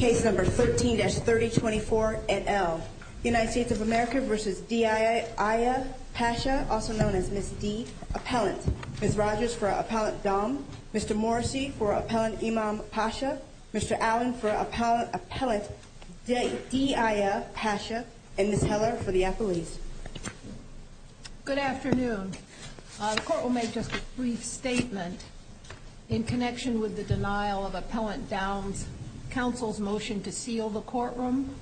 Ms. Rogers for Appellant Dom, Mr. Morrissey for Appellant Imam Pasha, Mr. Allen for Appellant Daaiyah Pasha, and Ms. Heller for the appellees. Good afternoon. The court will make just a brief statement in connection with the denial of Appellant Dom's counsel's motion to seal the courtroom.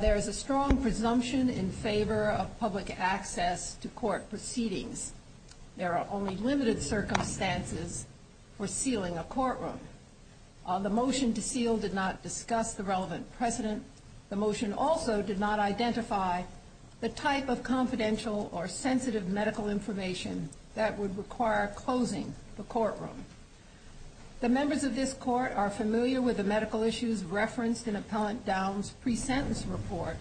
There is a strong presumption in favor of public access to court proceedings. There are only limited circumstances for sealing a courtroom. The motion to seal did not discuss the relevant precedent. The motion also did not identify the type of confidential or sensitive medical information that would require closing the courtroom. The members of this court are familiar with the medical issues referenced in Appellant Dom's pre-sentence report,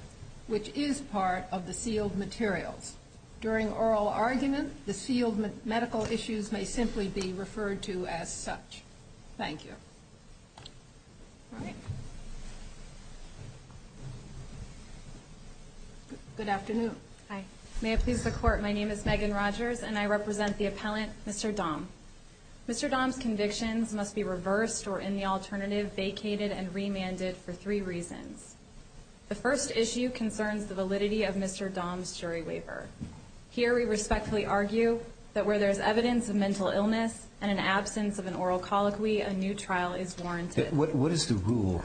which is part of the sealed materials. During oral argument, the sealed medical issues may simply be referred to as such. Thank you. All right. Good afternoon. Hi. May it please the court, my name is Megan Rogers, and I represent the appellant, Mr. Dom. Mr. Dom's convictions must be reversed or, in the alternative, vacated and remanded for three reasons. The first issue concerns the validity of Mr. Dom's jury waiver. Here, we respectfully argue that where there is evidence of mental illness and an absence of an oral colloquy, a new trial is warranted. What does Rule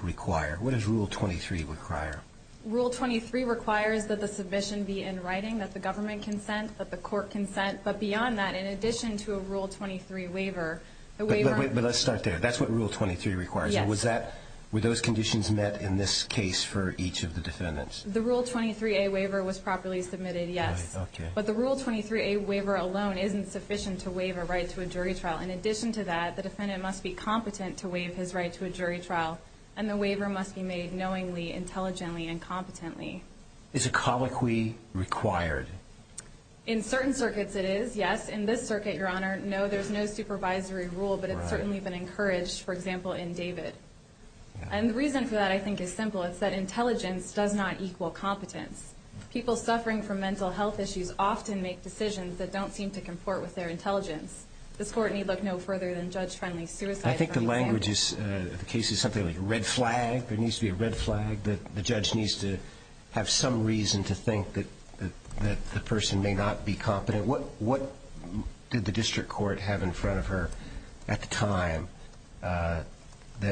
23 require? Rule 23 requires that the submission be in writing, that the government consent, that the court consent, but beyond that, in addition to a Rule 23 waiver, the waiver But let's start there. That's what Rule 23 requires. Yes. Were those conditions met in this case for each of the defendants? The Rule 23a waiver was properly submitted, yes. Right. Okay. But the Rule 23a waiver alone isn't sufficient to waive a right to a jury trial. In addition to that, the defendant must be competent to waive his right to a jury trial, and the waiver must be made knowingly, intelligently, and competently. Is a colloquy required? In certain circuits, it is, yes. In this circuit, Your Honor, no, there's no supervisory rule, but it's certainly been encouraged, for example, in David. And the reason for that, I think, is simple. It's that intelligence does not equal competence. People suffering from mental health issues often make decisions that don't seem to comport with their intelligence. This Court need look no further than judge-friendly suicide. I think the language of the case is something like a red flag. There needs to be a red flag that the judge needs to have some reason to think that the person may not be competent. What did the district court have in front of her at the time that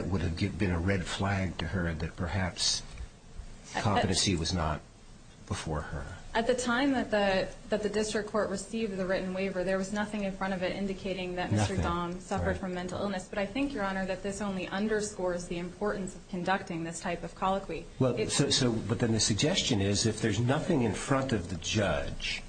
would have been a red flag to her that perhaps competency was not before her? At the time that the district court received the written waiver, there was nothing in front of it indicating that Mr. Dong suffered from mental illness. But I think, Your Honor, that this only underscores the importance of conducting this type of colloquy. But then the suggestion is, if there's nothing in front of the judge,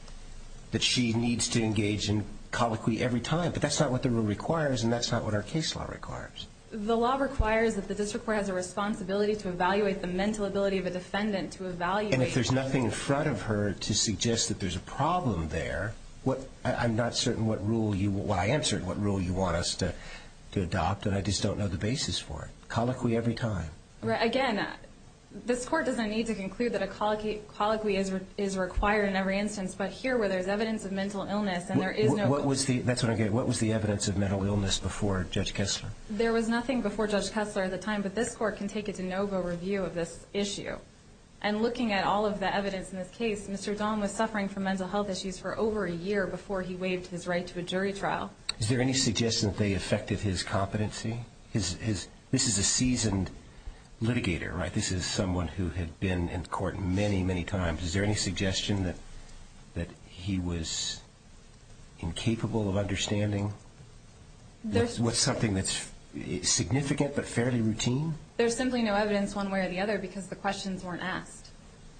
that she needs to engage in colloquy every time. But that's not what the rule requires, and that's not what our case law requires. The law requires that the district court has a responsibility to evaluate the mental ability of a defendant to evaluate. And if there's nothing in front of her to suggest that there's a problem there, I'm not certain what rule you want. I am certain what rule you want us to adopt, and I just don't know the basis for it. Colloquy every time. Again, this Court doesn't need to conclude that a colloquy is required in every instance. But here, where there's evidence of mental illness, and there is no— That's what I'm getting at. What was the evidence of mental illness before Judge Kessler? There was nothing before Judge Kessler at the time, but this Court can take a de novo review of this issue. And looking at all of the evidence in this case, Mr. Dahn was suffering from mental health issues for over a year before he waived his right to a jury trial. Is there any suggestion that they affected his competency? This is a seasoned litigator, right? This is someone who had been in court many, many times. Is there any suggestion that he was incapable of understanding something that's significant but fairly routine? There's simply no evidence one way or the other because the questions weren't asked.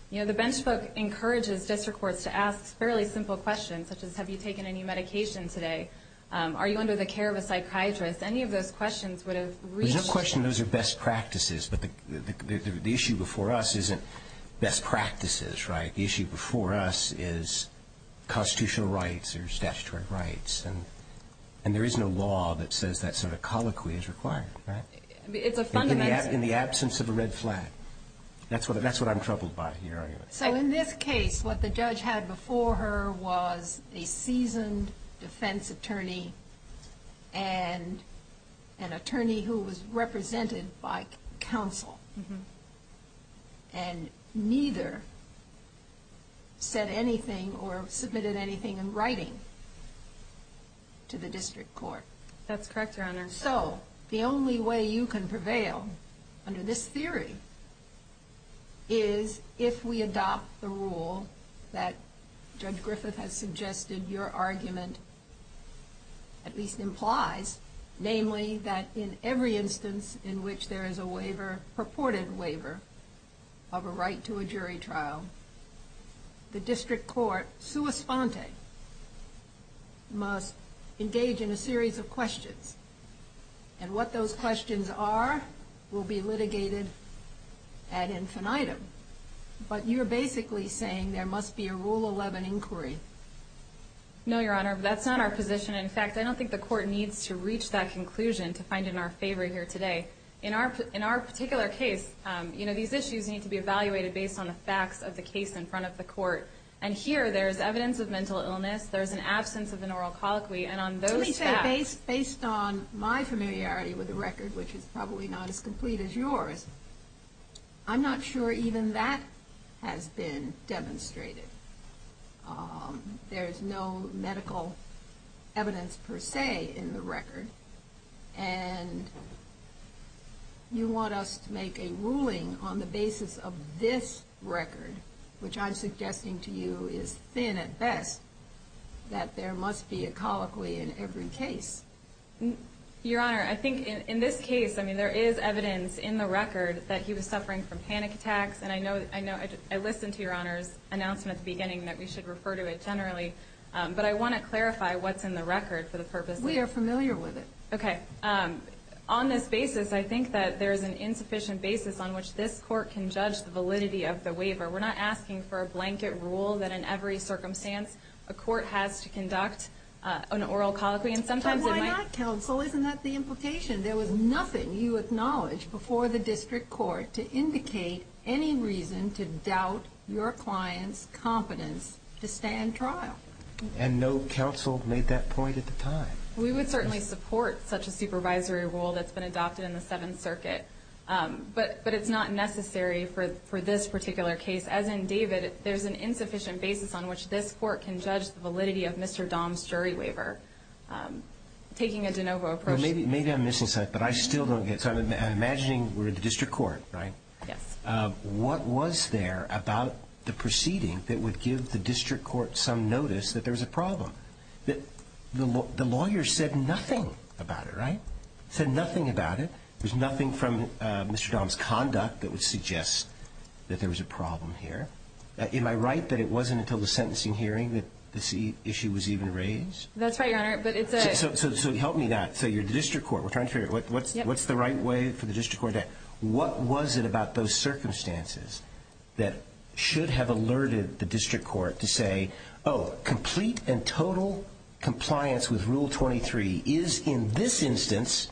You know, the bench book encourages district courts to ask fairly simple questions, such as, Have you taken any medication today? Are you under the care of a psychiatrist? Any of those questions would have reached— There's no question those are best practices, but the issue before us isn't best practices, right? The issue before us is constitutional rights or statutory rights. And there is no law that says that sort of colloquy is required, right? It's a fundamental— In the absence of a red flag. That's what I'm troubled by in your argument. So in this case, what the judge had before her was a seasoned defense attorney and an attorney who was represented by counsel. And neither said anything or submitted anything in writing to the district court. That's correct, Your Honor. And so the only way you can prevail under this theory is if we adopt the rule that Judge Griffith has suggested your argument at least implies, namely that in every instance in which there is a waiver, purported waiver, of a right to a jury trial, the district court, sua sponte, must engage in a series of questions. And what those questions are will be litigated ad infinitum. But you're basically saying there must be a Rule 11 inquiry. No, Your Honor. That's not our position. In fact, I don't think the court needs to reach that conclusion to find it in our favor here today. In our particular case, you know, these issues need to be evaluated based on the facts of the case in front of the court. And here there is evidence of mental illness. There is an absence of an oral colloquy. And on those facts. Let me say, based on my familiarity with the record, which is probably not as complete as yours, I'm not sure even that has been demonstrated. There is no medical evidence, per se, in the record. And you want us to make a ruling on the basis of this record, which I'm suggesting to you is thin at best, that there must be a colloquy in every case. Your Honor, I think in this case, I mean, there is evidence in the record that he was suffering from panic attacks. And I know I listened to Your Honor's announcement at the beginning that we should refer to it generally. But I want to clarify what's in the record for the purposes of this case. We are familiar with it. Okay. On this basis, I think that there is an insufficient basis on which this court can judge the validity of the waiver. We're not asking for a blanket rule that in every circumstance a court has to conduct an oral colloquy. And sometimes it might. But why not, counsel? Isn't that the implication? There was nothing you acknowledged before the district court to indicate any reason to doubt your client's competence to stand trial. And no counsel made that point at the time. We would certainly support such a supervisory rule that's been adopted in the Seventh Circuit. But it's not necessary for this particular case. As in David, there's an insufficient basis on which this court can judge the validity of Mr. Dahm's jury waiver. Taking a de novo approach. Maybe I'm missing something, but I still don't get it. So I'm imagining we're in the district court, right? Yes. What was there about the proceeding that would give the district court some notice that there was a problem? The lawyer said nothing about it, right? Said nothing about it. There's nothing from Mr. Dahm's conduct that would suggest that there was a problem here. Am I right that it wasn't until the sentencing hearing that this issue was even raised? That's right, Your Honor. So help me that. So you're the district court. We're trying to figure out what's the right way for the district court to act. Total compliance with Rule 23 is, in this instance,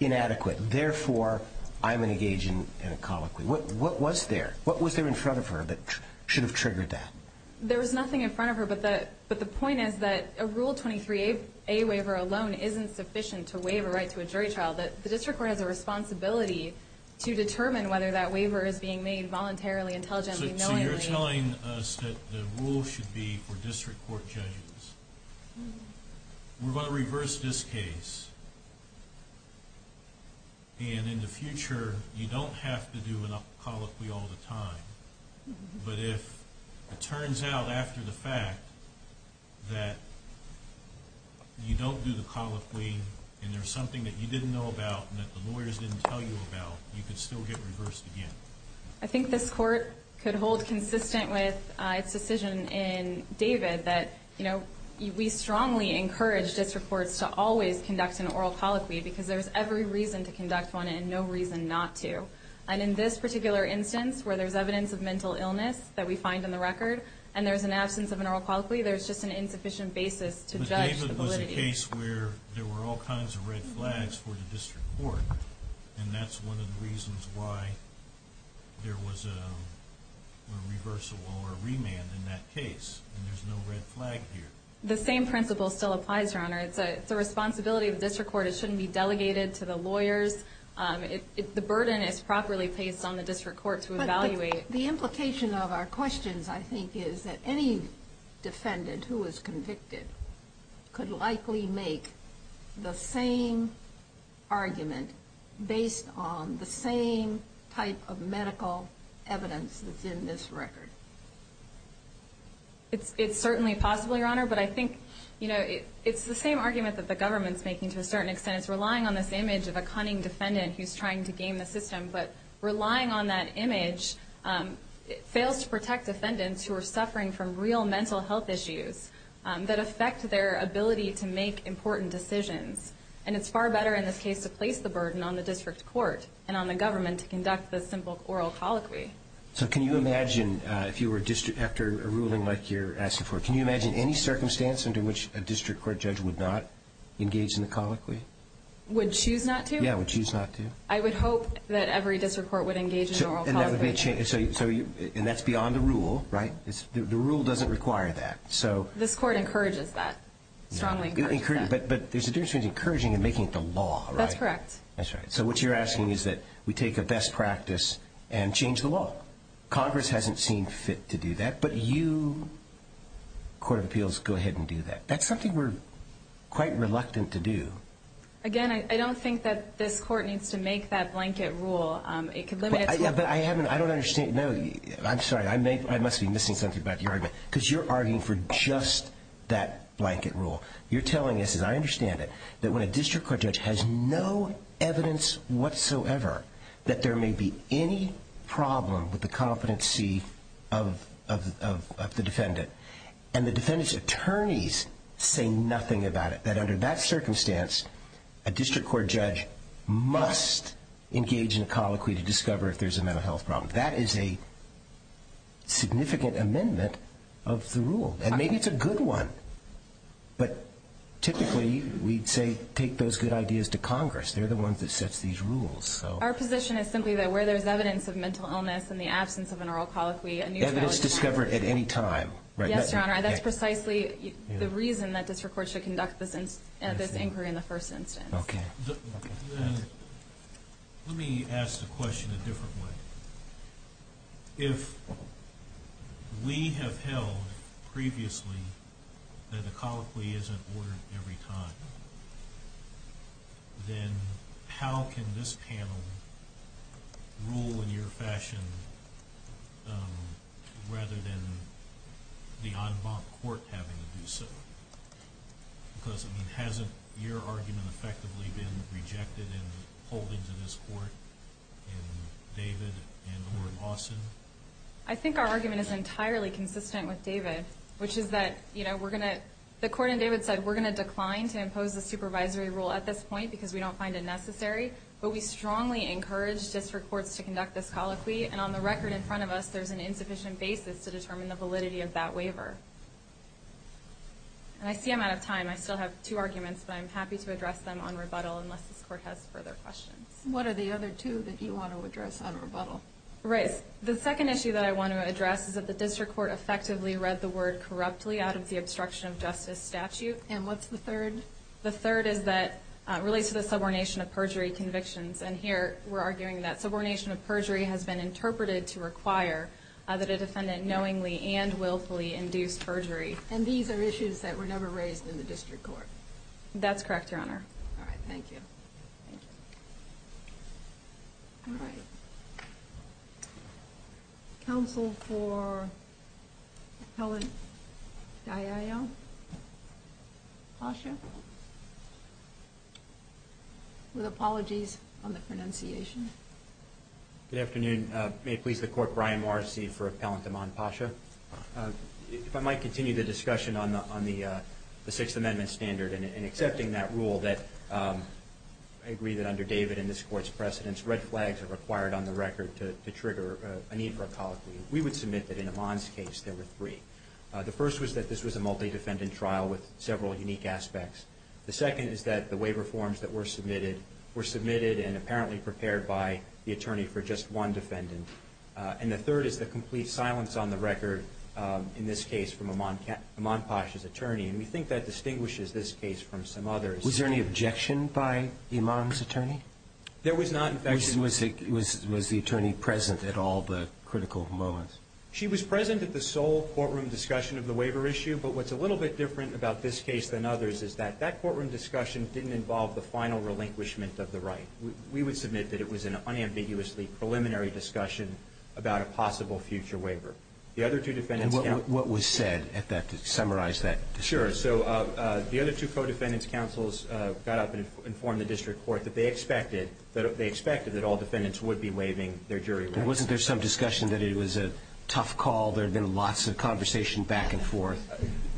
inadequate. Therefore, I'm going to engage in a colloquy. What was there? What was there in front of her that should have triggered that? There was nothing in front of her, but the point is that a Rule 23a waiver alone isn't sufficient to waive a right to a jury trial. The district court has a responsibility to determine whether that waiver is being made voluntarily, intelligently, knowingly. So you're telling us that the rule should be for district court judges. We're going to reverse this case. And in the future, you don't have to do a colloquy all the time. But if it turns out after the fact that you don't do the colloquy and there's something that you didn't know about and that the lawyers didn't tell you about, you could still get reversed again. I think this court could hold consistent with its decision in David that we strongly encourage district courts to always conduct an oral colloquy because there's every reason to conduct one and no reason not to. And in this particular instance, where there's evidence of mental illness that we find in the record and there's an absence of an oral colloquy, there's just an insufficient basis to judge the validity. But David was a case where there were all kinds of red flags for the district court, and that's one of the reasons why there was a reversal or a remand in that case. And there's no red flag here. The same principle still applies, Your Honor. It's a responsibility of the district court. It shouldn't be delegated to the lawyers. The burden is properly placed on the district court to evaluate. The implication of our questions, I think, is that any defendant who was convicted could likely make the same argument based on the same type of medical evidence that's in this record. It's certainly possible, Your Honor. But I think it's the same argument that the government's making to a certain extent. It's relying on this image of a cunning defendant who's trying to game the system. But relying on that image fails to protect defendants who are suffering from real mental health issues that affect their ability to make important decisions. And it's far better in this case to place the burden on the district court and on the government to conduct the simple oral colloquy. So can you imagine if you were a district after a ruling like you're asking for, can you imagine any circumstance under which a district court judge would not engage in the colloquy? Would choose not to? Yeah, would choose not to. I would hope that every district court would engage in an oral colloquy. And that's beyond the rule, right? The rule doesn't require that. This Court encourages that, strongly encourages that. But there's a difference between encouraging and making it the law, right? That's correct. That's right. So what you're asking is that we take a best practice and change the law. Congress hasn't seen fit to do that, but you, Court of Appeals, go ahead and do that. That's something we're quite reluctant to do. Again, I don't think that this Court needs to make that blanket rule. It could limit its work. But I haven't, I don't understand, no, I'm sorry, I must be missing something about your argument. Because you're arguing for just that blanket rule. You're telling us, as I understand it, that when a district court judge has no evidence whatsoever that there may be any problem with the competency of the defendant, and the defendant's attorneys say nothing about it, that under that circumstance a district court judge must engage in a colloquy to discover if there's a mental health problem. That is a significant amendment of the rule. And maybe it's a good one. But typically we'd say take those good ideas to Congress. They're the ones that sets these rules. Our position is simply that where there's evidence of mental illness and the absence of an oral colloquy, a new trial is required. Yes, Your Honor. That's precisely the reason that district courts should conduct this inquiry in the first instance. Okay. Let me ask the question a different way. If we have held previously that a colloquy isn't ordered every time, then how can this panel rule in your fashion rather than the en banc court having to do so? Because, I mean, hasn't your argument effectively been rejected in holding to this court in David and or in Lawson? I think our argument is entirely consistent with David, which is that, you know, we're going to – we're not going to impose a supervisory rule at this point because we don't find it necessary, but we strongly encourage district courts to conduct this colloquy. And on the record in front of us, there's an insufficient basis to determine the validity of that waiver. And I see I'm out of time. I still have two arguments, but I'm happy to address them on rebuttal unless this court has further questions. What are the other two that you want to address on rebuttal? The second issue that I want to address is that the district court effectively read the word corruptly out of the obstruction of justice statute. And what's the third? The third is that it relates to the subordination of perjury convictions. And here we're arguing that subordination of perjury has been interpreted to require that a defendant knowingly and willfully induce perjury. And these are issues that were never raised in the district court? That's correct, Your Honor. All right. Thank you. Thank you. All right. Counsel for Appellant Dayao? Pasha? With apologies on the pronunciation. Good afternoon. May it please the Court, Brian Morrissey for Appellant Daman Pasha. If I might continue the discussion on the Sixth Amendment standard and accepting that rule that I agree that under David and this Court's precedence, red flags are required on the record to trigger a need for a colloquy. We would submit that in Iman's case there were three. The first was that this was a multi-defendant trial with several unique aspects. The second is that the waiver forms that were submitted were submitted and apparently prepared by the attorney for just one defendant. And the third is the complete silence on the record in this case from Iman Pasha's attorney. And we think that distinguishes this case from some others. Was there any objection by Iman's attorney? There was not. Was the attorney present at all the critical moments? She was present at the sole courtroom discussion of the waiver issue, but what's a little bit different about this case than others is that that courtroom discussion didn't involve the final relinquishment of the right. We would submit that it was an unambiguously preliminary discussion about a possible future waiver. And what was said to summarize that discussion? Sure. So the other two co-defendants' counsels got up and informed the district court that they expected that all defendants would be waiving their jury rights. But wasn't there some discussion that it was a tough call? There had been lots of conversation back and forth.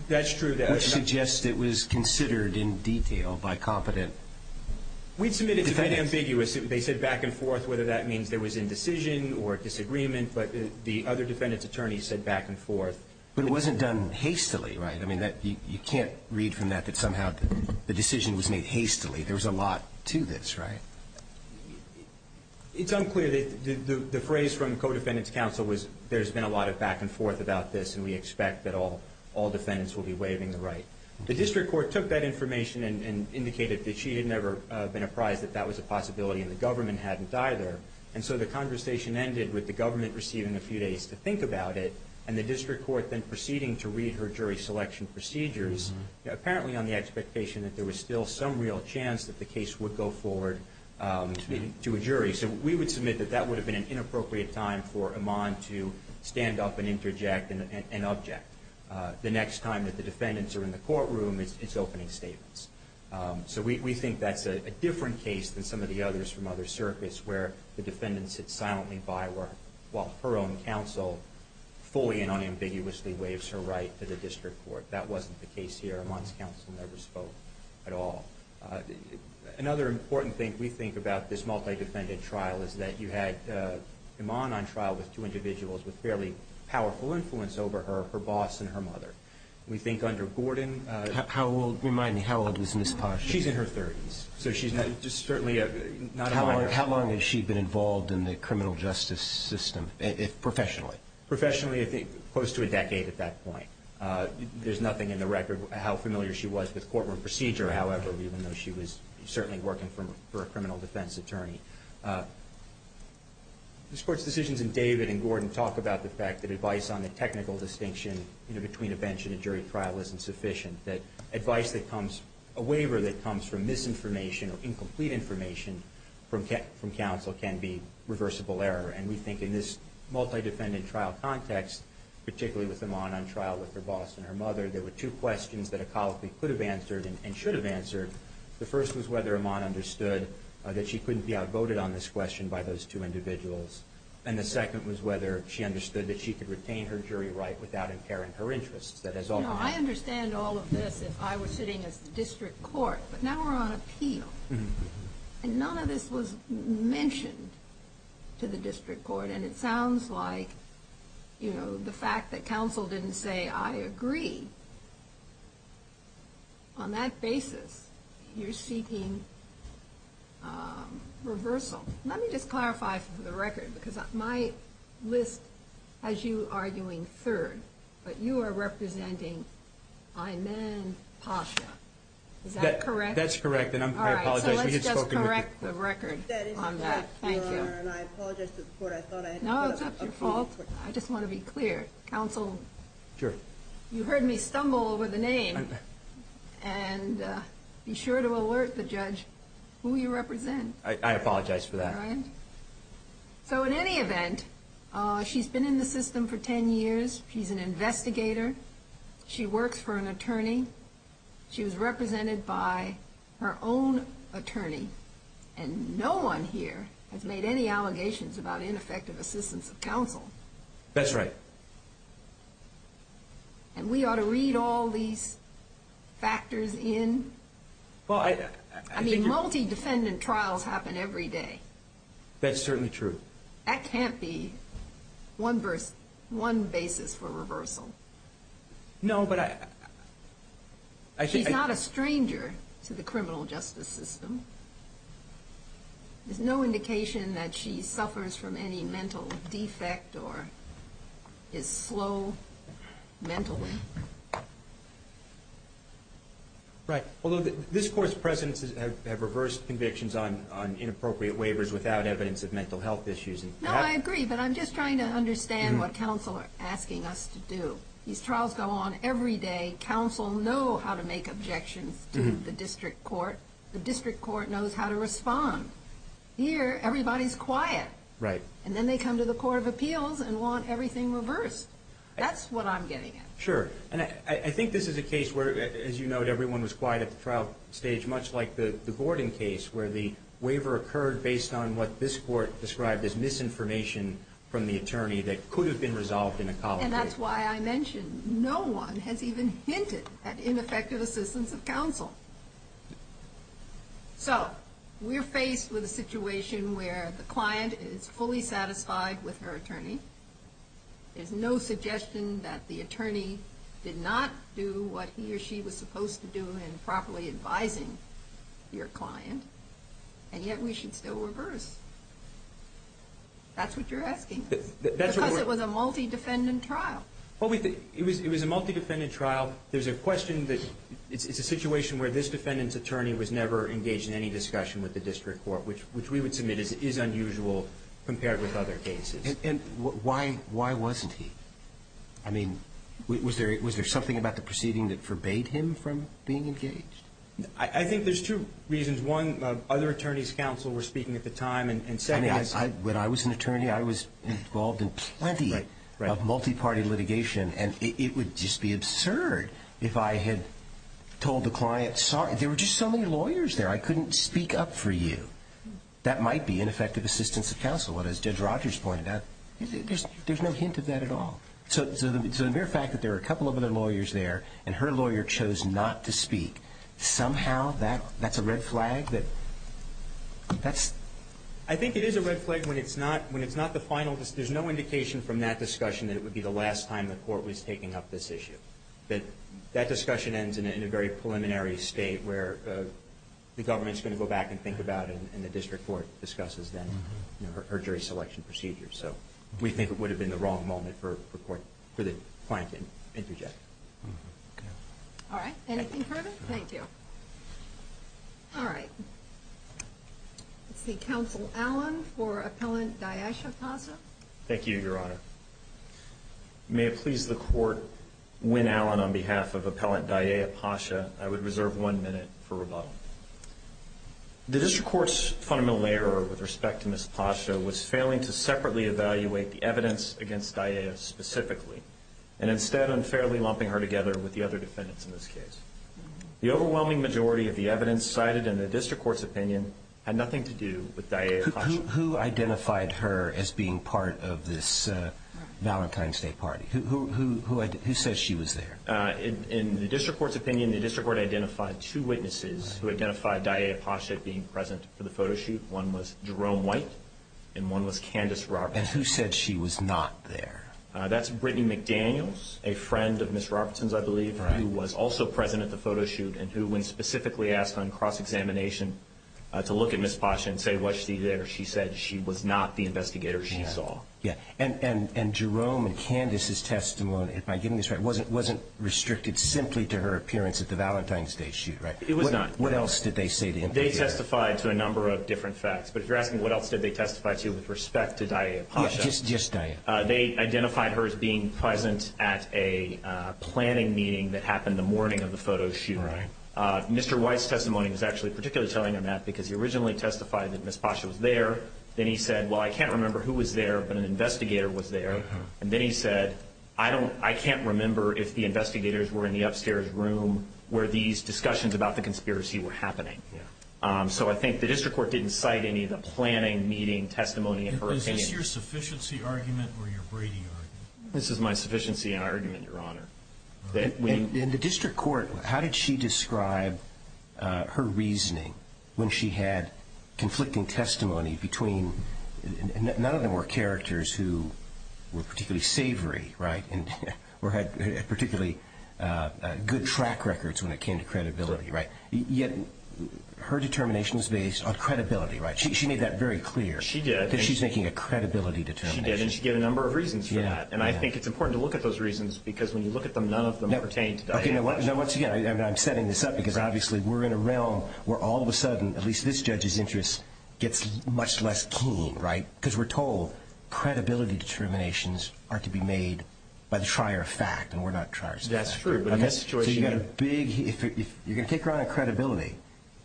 That's true. Which suggests it was considered in detail by competent defendants. We'd submit it to be ambiguous. They said back and forth whether that means there was indecision or disagreement, but the other defendants' attorneys said back and forth. But it wasn't done hastily, right? I mean, you can't read from that that somehow the decision was made hastily. There was a lot to this, right? It's unclear. The phrase from co-defendants' counsel was there's been a lot of back and forth about this, and we expect that all defendants will be waiving the right. The district court took that information and indicated that she had never been apprised that that was a possibility, and the government hadn't either. And so the conversation ended with the government receiving a few days to think about it and the district court then proceeding to read her jury selection procedures, apparently on the expectation that there was still some real chance that the case would go forward to a jury. So we would submit that that would have been an inappropriate time for Iman to stand up and interject and object. The next time that the defendants are in the courtroom, it's opening statements. So we think that's a different case than some of the others from other circuits where the defendant sits silently by while her own counsel fully and unambiguously waives her right to the district court. That wasn't the case here. Iman's counsel never spoke at all. Another important thing we think about this multi-defendant trial is that you had Iman on trial with two individuals with fairly powerful influence over her, her boss and her mother. We think under Gordon. Remind me, how old is Ms. Posh? She's in her 30s, so she's just certainly not a minor. But how long has she been involved in the criminal justice system professionally? Professionally, I think close to a decade at that point. There's nothing in the record how familiar she was with courtroom procedure, however, even though she was certainly working for a criminal defense attorney. This Court's decisions in David and Gordon talk about the fact that advice on the technical distinction between a bench and a jury trial isn't sufficient, that advice that comes, a waiver that comes from misinformation or incomplete information from counsel can be reversible error. And we think in this multi-defendant trial context, particularly with Iman on trial with her boss and her mother, there were two questions that a colleague could have answered and should have answered. The first was whether Iman understood that she couldn't be outvoted on this question by those two individuals. And the second was whether she understood that she could retain her jury right without impairing her interests. Now, I understand all of this if I were sitting as the district court, but now we're on appeal, and none of this was mentioned to the district court, and it sounds like, you know, the fact that counsel didn't say, I agree, on that basis, you're seeking reversal. Let me just clarify for the record, because my list has you arguing third, but you are representing Iman Pasha. Is that correct? That's correct, and I apologize. All right, so let's just correct the record on that. Thank you. That is correct, Your Honor, and I apologize to the court. No, it's not your fault. I just want to be clear. Counsel, you heard me stumble over the name, and be sure to alert the judge who you represent. I apologize for that. All right, so in any event, she's been in the system for 10 years. She's an investigator. She works for an attorney. She was represented by her own attorney, and no one here has made any allegations about ineffective assistance of counsel. That's right. And we ought to read all these factors in. I mean, multi-defendant trials happen every day. That's certainly true. That can't be one basis for reversal. No, but I think... She's not a stranger to the criminal justice system. There's no indication that she suffers from any mental defect or is slow mentally. Right. Although this Court's presidents have reversed convictions on inappropriate waivers without evidence of mental health issues. No, I agree, but I'm just trying to understand what counsel are asking us to do. These trials go on every day. Counsel know how to make objections to the district court. The district court knows how to respond. Here, everybody's quiet. Right. And then they come to the Court of Appeals and want everything reversed. That's what I'm getting at. Sure. And I think this is a case where, as you note, everyone was quiet at the trial stage, much like the Gordon case where the waiver occurred based on what this Court described as misinformation from the attorney that could have been resolved in a college case. And that's why I mentioned no one has even hinted at ineffective assistance of counsel. So we're faced with a situation where the client is fully satisfied with her attorney. There's no suggestion that the attorney did not do what he or she was supposed to do in properly advising your client. And yet we should still reverse. That's what you're asking. Because it was a multi-defendant trial. It was a multi-defendant trial. There's a question that it's a situation where this defendant's attorney was never engaged in any discussion with the district court, which we would submit is unusual compared with other cases. And why wasn't he? I mean, was there something about the proceeding that forbade him from being engaged? I think there's two reasons. One, other attorneys' counsel were speaking at the time. And second, I was an attorney. I was involved in plenty of multi-party litigation. And it would just be absurd if I had told the client, sorry, there were just so many lawyers there. That might be ineffective assistance of counsel. And as Judge Rogers pointed out, there's no hint of that at all. So the mere fact that there were a couple of other lawyers there and her lawyer chose not to speak, somehow that's a red flag that that's. I think it is a red flag when it's not the final. There's no indication from that discussion that it would be the last time the court was taking up this issue. That discussion ends in a very preliminary state where the government's going to go back and think about it and the district court discusses then her jury selection procedure. So we think it would have been the wrong moment for the client to interject. All right. Anything further? Thank you. All right. Let's see. Counsel Allen for Appellant Diasha Pasha. Thank you, Your Honor. May it please the court, when Allen on behalf of Appellant Diasha Pasha, I would reserve one minute for rebuttal. The district court's fundamental error with respect to Ms. Pasha was failing to separately evaluate the evidence against Diasha specifically and instead unfairly lumping her together with the other defendants in this case. The overwhelming majority of the evidence cited in the district court's opinion had nothing to do with Diasha Pasha. Who identified her as being part of this Valentine's Day party? Who says she was there? In the district court's opinion, the district court identified two witnesses who identified Diasha Pasha being present for the photo shoot. One was Jerome White and one was Candace Robertson. And who said she was not there? That's Brittany McDaniels, a friend of Ms. Robertson's, I believe, who was also present at the photo shoot and who when specifically asked on cross-examination to look at Ms. Pasha and say was she there, she said she was not the investigator she saw. Yeah, and Jerome and Candace's testimony, if I'm getting this right, wasn't restricted simply to her appearance at the Valentine's Day shoot, right? It was not. What else did they say? They testified to a number of different facts. But if you're asking what else did they testify to with respect to Diasha Pasha? Just Diasha. They identified her as being present at a planning meeting that happened the morning of the photo shoot. Right. Mr. White's testimony was actually particularly telling on that because he originally testified that Ms. Pasha was there. Then he said, well, I can't remember who was there, but an investigator was there. And then he said, I can't remember if the investigators were in the upstairs room where these discussions about the conspiracy were happening. Yeah. So I think the district court didn't cite any of the planning meeting testimony in her opinion. Is this your sufficiency argument or your Brady argument? This is my sufficiency argument, Your Honor. In the district court, how did she describe her reasoning when she had conflicting testimony between, none of them were characters who were particularly savory, right? Or had particularly good track records when it came to credibility, right? Yet her determination is based on credibility, right? She made that very clear. She did. That she's making a credibility determination. She did. And she gave a number of reasons for that. Yeah. And I think it's important to look at those reasons because when you look at them, none of them pertain to Diasha. Okay. Now once again, I'm setting this up because obviously we're in a realm where all of a much less keen, right? Because we're told credibility determinations are to be made by the trier of fact and we're not triers of fact. That's true. But in this situation... So you've got a big... If you're going to take her on a credibility,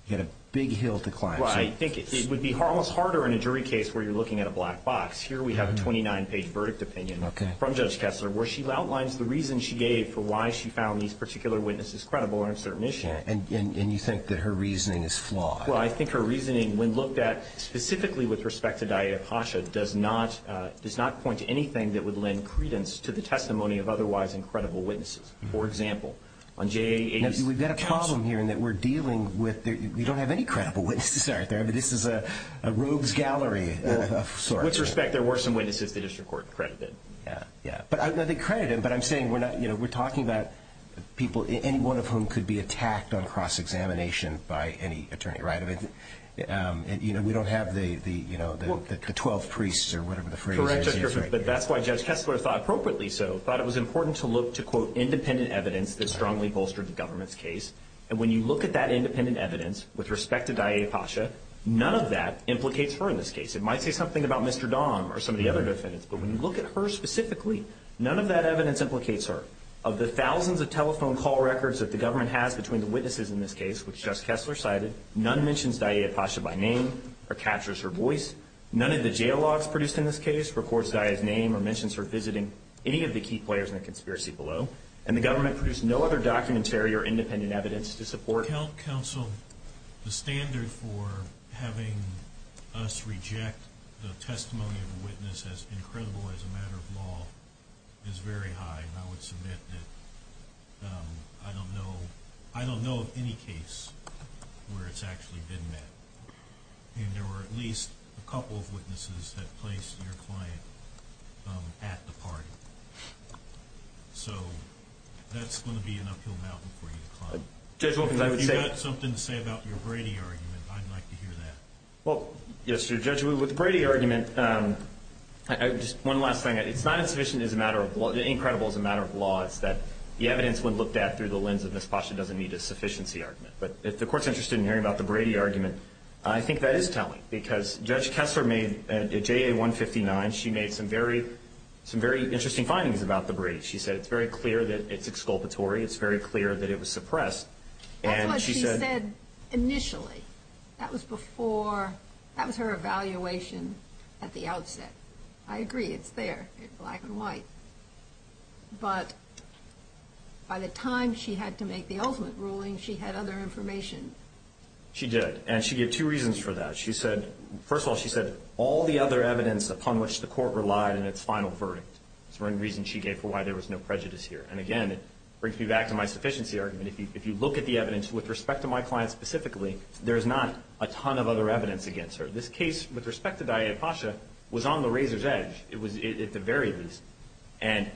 you've got a big hill to climb. Well, I think it would be almost harder in a jury case where you're looking at a black box. Here we have a 29-page verdict opinion from Judge Kessler where she outlines the reasons she gave for why she found these particular witnesses credible on a certain issue. And you think that her reasoning is flawed? Well, I think her reasoning, when looked at specifically with respect to Diasha, does not point to anything that would lend credence to the testimony of otherwise incredible witnesses. For example, on JAA's... Now, we've got a problem here in that we're dealing with... We don't have any credible witnesses out there, but this is a rogues gallery of sorts. Well, with respect, there were some witnesses the district court credited. Yeah, yeah. But I think credited, but I'm saying we're talking about people, anyone of whom could be attacked on cross-examination by any attorney, right? I mean, we don't have the 12 priests or whatever the phrase is. Correct, Justice Griffiths, but that's why Judge Kessler thought appropriately so, thought it was important to look to, quote, independent evidence that strongly bolstered the government's case. And when you look at that independent evidence with respect to Diasha, none of that implicates her in this case. It might say something about Mr. Dahm or some of the other defendants, but when you look at her specifically, none of that evidence implicates her. Of the thousands of telephone call records that the government has between the witnesses in this case, which Justice Kessler cited, none mentions Daya Pasha by name or captures her voice. None of the jail logs produced in this case records Daya's name or mentions her visiting any of the key players in the conspiracy below. And the government produced no other documentary or independent evidence to support. Health counsel, the standard for having us reject the testimony of a witness as incredible as a matter of law is very high. And I would submit that I don't know of any case where it's actually been met. And there were at least a couple of witnesses that placed your client at the party. So that's going to be an uphill mountain for you to climb. Judge Wilkins, I would say- If you've got something to say about your Brady argument, I'd like to hear that. Well, yes, Judge, with the Brady argument, just one last thing. It's not as sufficient as a matter of law, as incredible as a matter of law. It's that the evidence, when looked at through the lens of Ms. Pasha, doesn't meet a sufficiency argument. But if the Court's interested in hearing about the Brady argument, I think that is telling. Because Judge Kessler made, at JA 159, she made some very interesting findings about the Brady. She said it's very clear that it's exculpatory. It's very clear that it was suppressed. And she said- That's what she said initially. That was before. That was her evaluation at the outset. I agree. It's there. It's black and white. But by the time she had to make the ultimate ruling, she had other information. She did. And she gave two reasons for that. She said- First of all, she said all the other evidence upon which the Court relied in its final verdict was one reason she gave for why there was no prejudice here. And again, it brings me back to my sufficiency argument. If you look at the evidence with respect to my client specifically, there is not a ton of other evidence against her. This case, with respect to Daya Pasha, was on the razor's edge, at the very least. And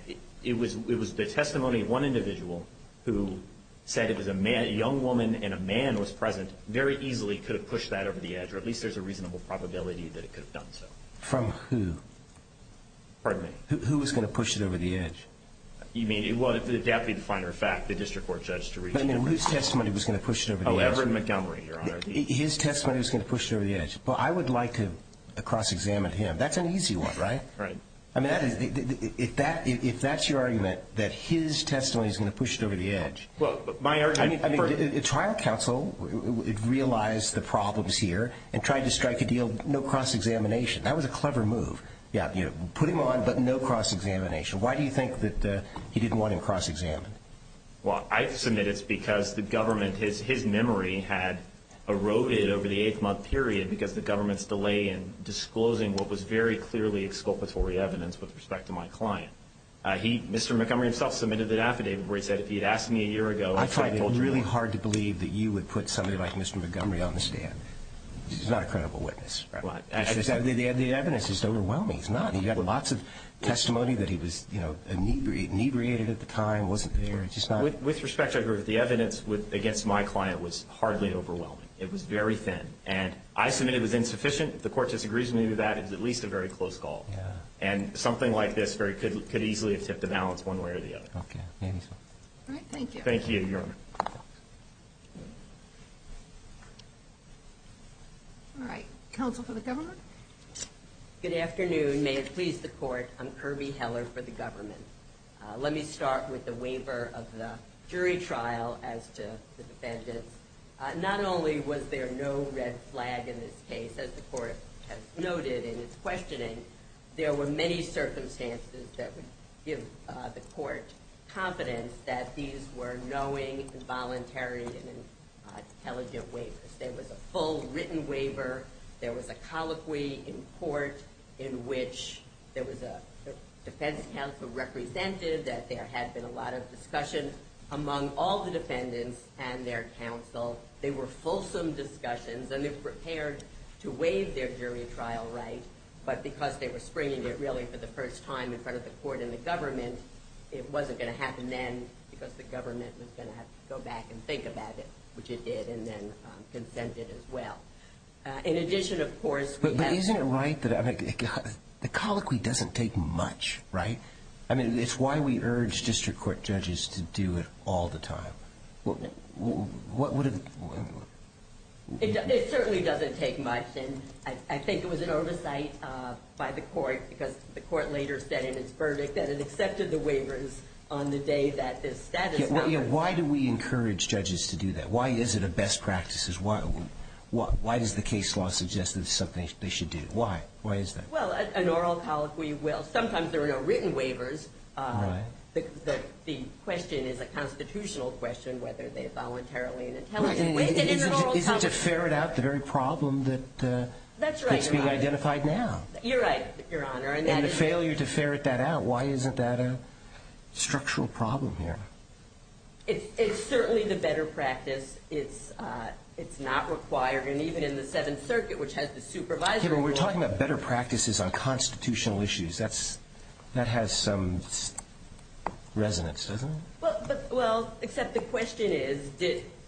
it was the testimony of one individual who said it was a young woman and a man was present, very easily could have pushed that over the edge, or at least there's a reasonable probability that it could have done so. From who? Pardon me? Who was going to push it over the edge? You mean- Well, that would be the finer fact, the district court judge to reach- But whose testimony was going to push it over the edge? Oh, Everett Montgomery, Your Honor. His testimony was going to push it over the edge. Well, I would like to cross-examine him. That's an easy one, right? Right. I mean, if that's your argument, that his testimony is going to push it over the edge- Well, my argument- I mean, the trial counsel realized the problems here and tried to strike a deal, no cross-examination. That was a clever move. Yeah, put him on, but no cross-examination. Why do you think that he didn't want him cross-examined? Well, I submit it's because the government, his memory had eroded over the eight-month period because the government's delay in disclosing what was very clearly exculpatory evidence with respect to my client. He, Mr. Montgomery himself, submitted an affidavit where he said if he had asked me a year ago- I find it really hard to believe that you would put somebody like Mr. Montgomery on the stand. He's not a credible witness. Right. The evidence is overwhelming. It's not. He got lots of testimony that he was inebriated at the time, wasn't there. It's just not- With respect to the evidence against my client was hardly overwhelming. It was very thin. And I submit it was insufficient. If the court disagrees with me on that, it's at least a very close call. Yeah. And something like this could easily have tipped the balance one way or the other. Okay. Maybe so. All right. Thank you. Thank you, Your Honor. All right. Counsel for the government? Good afternoon. May it please the court, I'm Kirby Heller for the government. Let me start with the waiver of the jury trial as to the defendant. Not only was there no red flag in this case, as the court has noted in its questioning, there were many circumstances that would give the court confidence that these were knowing, voluntary, and intelligent waivers. There was a full written waiver. There was a colloquy in court in which there was a defense counsel representative that there had been a lot of discussion among all the defendants and their counsel. They were fulsome discussions, and they prepared to waive their jury trial right. But because they were springing it really for the first time in front of the court and the government, it wasn't going to happen then because the government was going to have to go back and think about it, which it did, and then consented as well. In addition, of course, we have... But isn't it right that... The colloquy doesn't take much, right? I mean, it's why we urge district court judges to do it all the time. It certainly doesn't take much, and I think it was an oversight by the court because the court later said in its verdict that it accepted the waivers on the day that this status... Why do we encourage judges to do that? Why is it a best practice? Why does the case law suggest that it's something they should do? Why? Why is that? Well, an oral colloquy will... Sometimes there are no written waivers. The question is a constitutional question whether they voluntarily and intelligently... Isn't it to ferret out the very problem that's being identified now? You're right, Your Honor. And the failure to ferret that out, why isn't that a structural problem here? It's certainly the better practice. It's not required, and even in the Seventh Circuit, which has the supervisory role... We're talking about better practices on constitutional issues. That has some resonance, doesn't it? Well, except the question is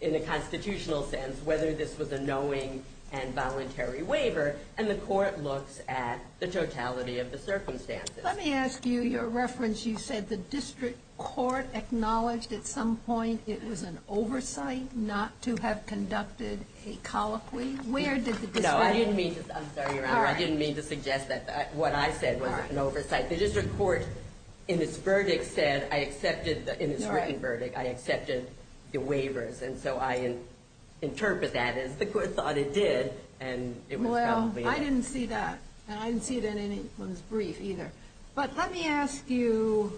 in a constitutional sense whether this was a knowing and voluntary waiver, and the court looks at the totality of the circumstances. Let me ask you your reference. You said the district court acknowledged at some point it was an oversight not to have conducted a colloquy. Where did the district... No, I didn't mean to... I'm sorry, Your Honor. I didn't mean to suggest that what I said was an oversight. The district court, in its written verdict, said I accepted the waivers, and so I interpreted that as the court thought it did. Well, I didn't see that, and I didn't see it in anyone's brief either. But let me ask you,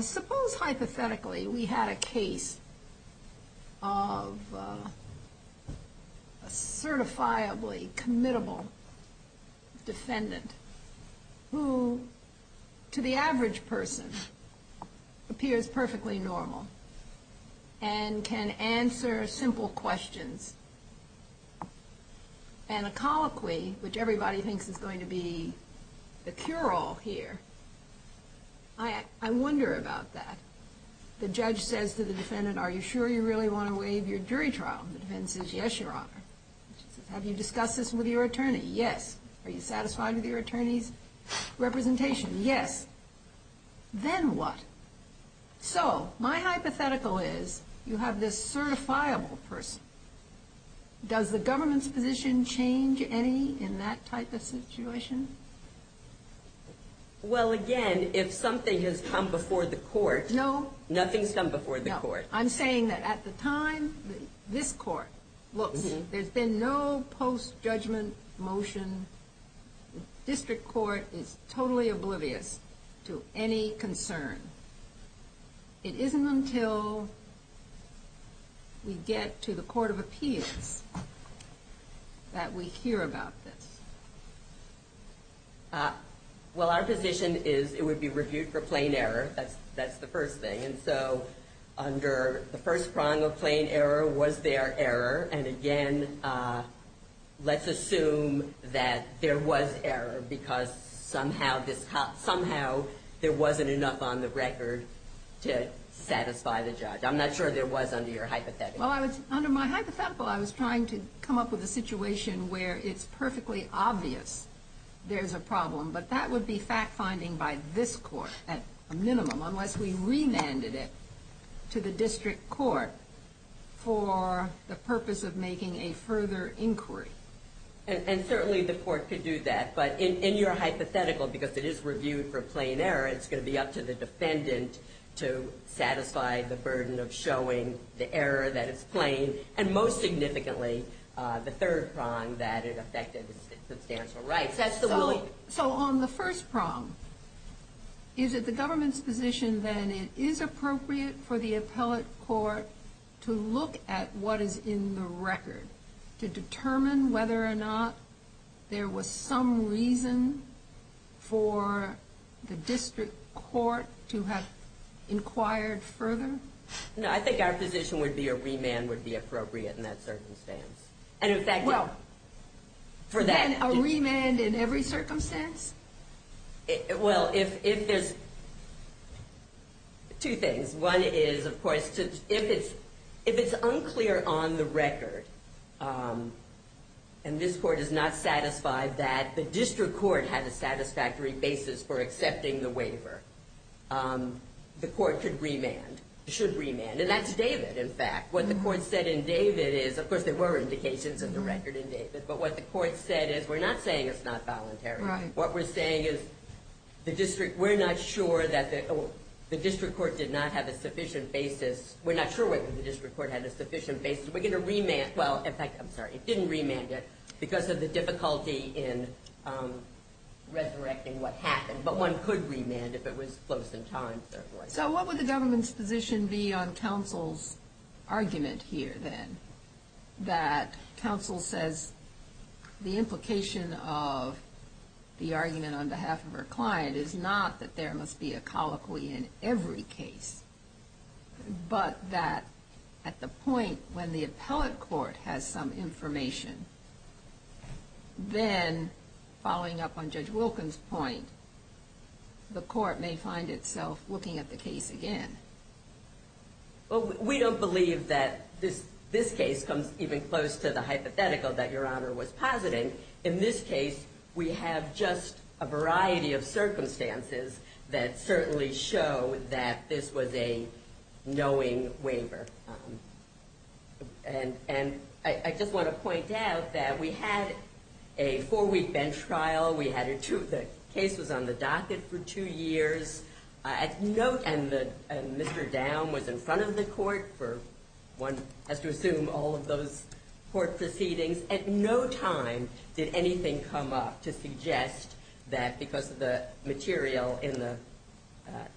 suppose hypothetically we had a case of a certifiably committable defendant who, to the average person, appears perfectly normal and can answer simple questions. And a colloquy, which everybody thinks is going to be the cure-all here, I wonder about that. The judge says to the defendant, Are you sure you really want to waive your jury trial? The defendant says, Yes, Your Honor. She says, Have you discussed this with your attorney? Yes. Are you satisfied with your attorney's representation? Yes. Then what? So my hypothetical is you have this certifiable person. Does the government's position change any in that type of situation? Well, again, if something has come before the court, nothing's come before the court. No. I'm saying that at the time this court looks, there's been no post-judgment motion. The district court is totally oblivious to any concern. It isn't until we get to the court of appeals that we hear about this. Well, our position is it would be reviewed for plain error. That's the first thing. And so under the first prong of plain error was there error. And, again, let's assume that there was error because somehow there wasn't enough on the record to satisfy the judge. I'm not sure there was under your hypothetical. Well, under my hypothetical I was trying to come up with a situation where it's perfectly obvious there's a problem, but that would be fact-finding by this court at a minimum unless we remanded it to the district court for the purpose of making a further inquiry. And certainly the court could do that. But in your hypothetical, because it is reviewed for plain error, it's going to be up to the defendant to satisfy the burden of showing the error that is plain and, most significantly, the third prong that it affected substantial rights. So on the first prong, is it the government's position then it is appropriate for the appellate court to look at what is in the record to determine whether or not there was some reason for the district court to have inquired further? No, I think our position would be a remand would be appropriate in that circumstance. Well, then a remand in every circumstance? Well, if there's two things. One is, of course, if it's unclear on the record, and this court is not satisfied that the district court had a satisfactory basis for accepting the waiver, the court should remand. And that's David, in fact. What the court said in David is, of course, there were indications of the record in David, but what the court said is we're not saying it's not voluntary. What we're saying is we're not sure that the district court did not have a sufficient basis. We're not sure whether the district court had a sufficient basis. We're going to remand. Well, in fact, I'm sorry, it didn't remand it because of the difficulty in resurrecting what happened. But one could remand if it was close in time, certainly. So what would the government's position be on counsel's argument here, then, that counsel says the implication of the argument on behalf of her client is not that there must be a colloquy in every case, but that at the point when the appellate court has some information, then, following up on Judge Wilkins' point, the court may find itself looking at the case again. Well, we don't believe that this case comes even close to the hypothetical that Your Honor was positing. In this case, we have just a variety of circumstances that certainly show that this was a knowing waiver. And I just want to point out that we had a four-week bench trial. The case was on the docket for two years. And Mr. Down was in front of the court for, one has to assume, all of those court proceedings. At no time did anything come up to suggest that because of the material in the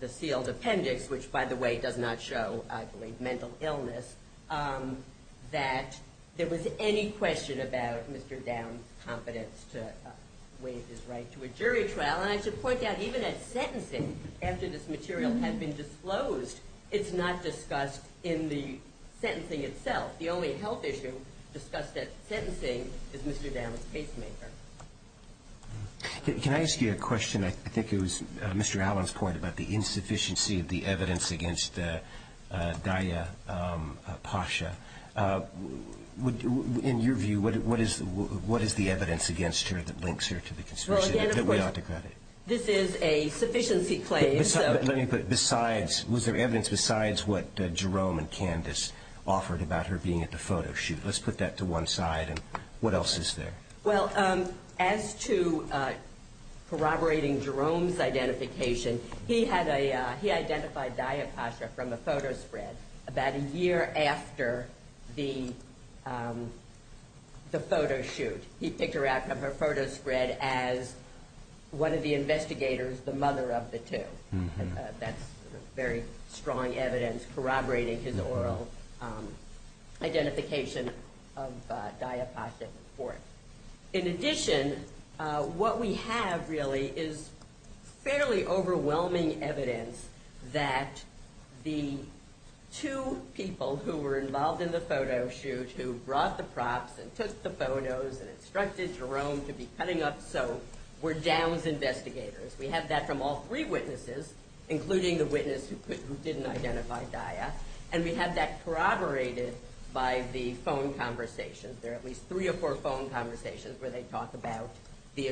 sealed appendix, which, by the way, does not show, I believe, mental illness, that there was any question about Mr. Down's confidence to waive his right to a jury trial. And I should point out, even at sentencing, after this material had been disclosed, it's not discussed in the sentencing itself. The only health issue discussed at sentencing is Mr. Down's casemaker. Can I ask you a question? I think it was Mr. Allen's point about the insufficiency of the evidence against Daya Pasha. In your view, what is the evidence against her that links her to the conspiracy that we ought to credit? Well, again, of course, this is a sufficiency claim. Let me put it. Besides, was there evidence besides what Jerome and Candace offered about her being at the photo shoot? Let's put that to one side. And what else is there? Well, as to corroborating Jerome's identification, he identified Daya Pasha from a photo spread about a year after the photo shoot. He picked her out from her photo spread as one of the investigators, the mother of the two. That's very strong evidence corroborating his oral identification of Daya Pasha. In addition, what we have really is fairly overwhelming evidence that the two people who were involved in the photo shoot, who brought the props and took the photos and instructed Jerome to be cutting up soap, were Down's investigators. We have that from all three witnesses, including the witness who didn't identify Daya. And we have that corroborated by the phone conversations. There are at least three or four phone conversations where they talk about the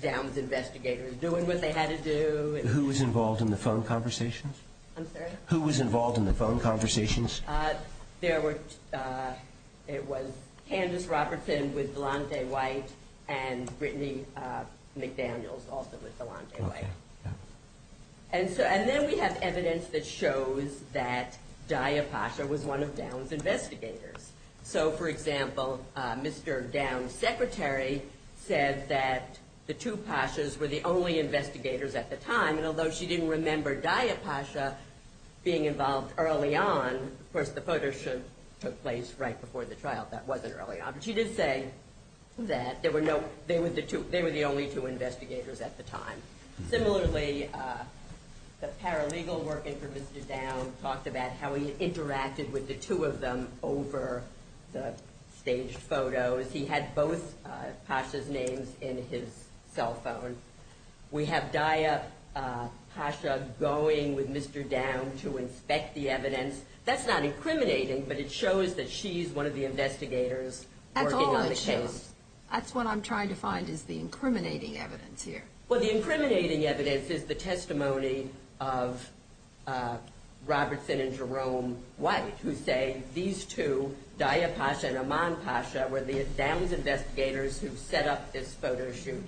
Down's investigators doing what they had to do. Who was involved in the phone conversations? I'm sorry? Who was involved in the phone conversations? It was Candace Robertson with Delante White and Brittany McDaniels, also with Delante White. And then we have evidence that shows that Daya Pasha was one of Down's investigators. So, for example, Mr. Down's secretary said that the two Pashas were the only investigators at the time. And although she didn't remember Daya Pasha being involved early on, of course, the photo shoot took place right before the trial. That wasn't early on. But she did say that they were the only two investigators at the time. Similarly, the paralegal working for Mr. Down talked about how he interacted with the two of them over the staged photos. He had both Pashas' names in his cell phone. We have Daya Pasha going with Mr. Down to inspect the evidence. That's not incriminating, but it shows that she's one of the investigators working on the case. That's all I'm saying. That's what I'm trying to find is the incriminating evidence here. Well, the incriminating evidence is the testimony of Robertson and Jerome White, who say these two, Daya Pasha and Aman Pasha, were the Down's investigators who set up this photo shoot.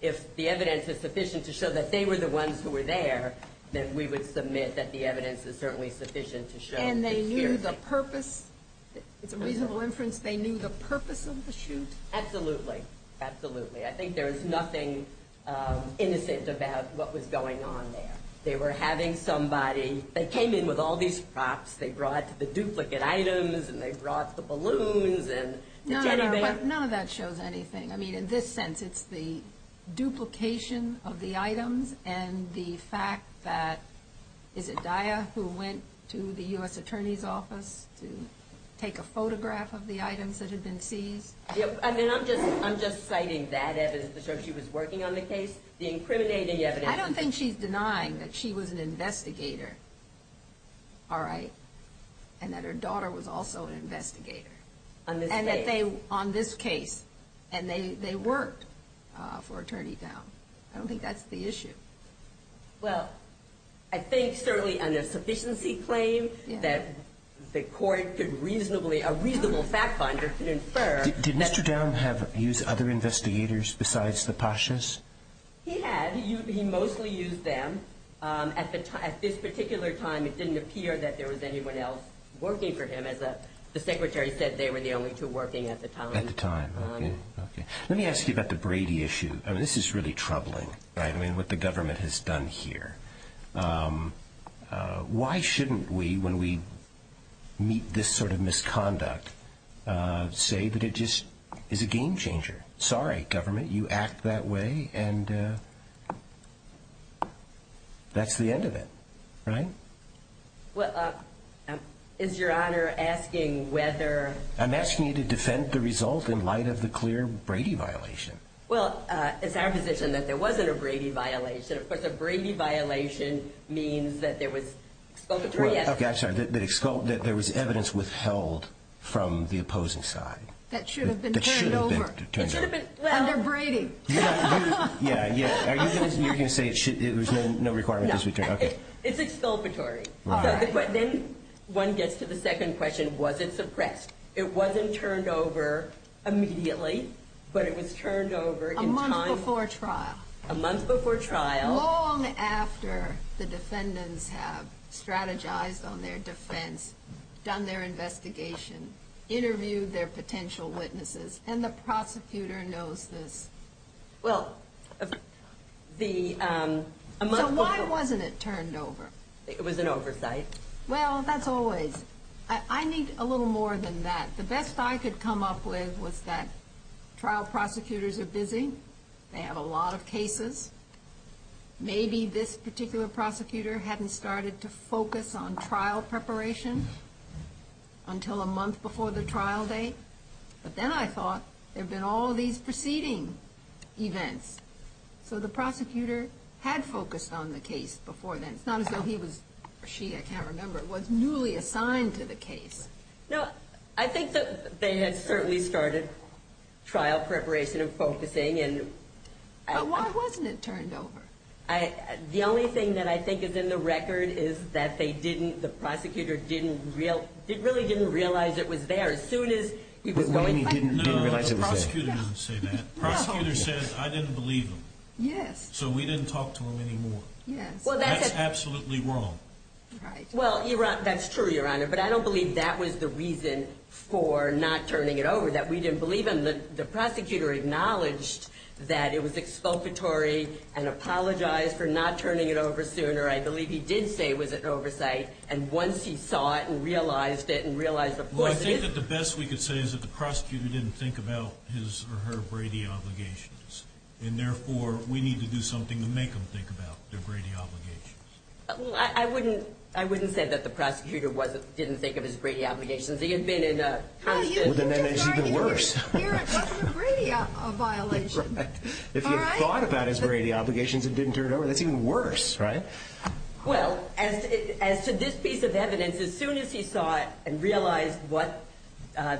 If the evidence is sufficient to show that they were the ones who were there, then we would submit that the evidence is certainly sufficient to show that they were here. And they knew the purpose? It's a reasonable inference they knew the purpose of the shoot? Absolutely. Absolutely. I think there is nothing innocent about what was going on there. They were having somebody. They came in with all these props. They brought the duplicate items, and they brought the balloons. No, no. None of that shows anything. I mean, in this sense, it's the duplication of the items and the fact that, is it Daya who went to the U.S. Attorney's Office to take a photograph of the items that had been seized? I'm just citing that evidence to show she was working on the case. The incriminating evidence. I don't think she's denying that she was an investigator, all right, and that her daughter was also an investigator. On this case. And they worked for Attorney Downe. I don't think that's the issue. Well, I think certainly under sufficiency claim that the court could reasonably, a reasonable fact finder could infer. Did Mr. Downe use other investigators besides the Poshas? He had. He mostly used them. At this particular time, it didn't appear that there was anyone else working for him. As the Secretary said, they were the only two working at the time. Okay. Let me ask you about the Brady issue. This is really troubling, right, I mean, what the government has done here. Why shouldn't we, when we meet this sort of misconduct, say that it just is a game changer? Sorry, government, you act that way and that's the end of it, right? Well, is Your Honor asking whether? I'm asking you to defend the result in light of the clear Brady violation. Well, it's our position that there wasn't a Brady violation. Of course, a Brady violation means that there was exculpatory evidence. I'm sorry, that there was evidence withheld from the opposing side. That should have been turned over. It should have been. Under Brady. Yeah, yeah. You're going to say it was no requirement. It's exculpatory. One gets to the second question, was it suppressed? It wasn't turned over immediately, but it was turned over in time. A month before trial. A month before trial. Long after the defendants have strategized on their defense, done their investigation, interviewed their potential witnesses, and the prosecutor knows this. Well, a month before. So why wasn't it turned over? It was an oversight. Well, that's always. I need a little more than that. The best I could come up with was that trial prosecutors are busy. They have a lot of cases. Maybe this particular prosecutor hadn't started to focus on trial preparation until a month before the trial date. But then I thought, there have been all these preceding events. So the prosecutor had focused on the case before then. It's not as though he was or she, I can't remember, was newly assigned to the case. No, I think that they had certainly started trial preparation and focusing. But why wasn't it turned over? The only thing that I think is in the record is that the prosecutor really didn't realize it was there as soon as he was going. No, the prosecutor didn't say that. The prosecutor says, I didn't believe him. Yes. So we didn't talk to him anymore. Yes. That's absolutely wrong. Right. Well, that's true, Your Honor. But I don't believe that was the reason for not turning it over, that we didn't believe him. The prosecutor acknowledged that it was expulsory and apologized for not turning it over sooner. I believe he did say it was an oversight. And once he saw it and realized it and realized the force of it. Well, I think that the best we could say is that the prosecutor didn't think about his or her Brady obligations. And therefore, we need to do something to make them think about their Brady obligations. I wouldn't say that the prosecutor didn't think of his Brady obligations. He had been in a constant. Well, then it's even worse. It wasn't a Brady violation. Right. If he had thought about his Brady obligations and didn't turn it over, that's even worse, right? Well, as to this piece of evidence, as soon as he saw it and realized what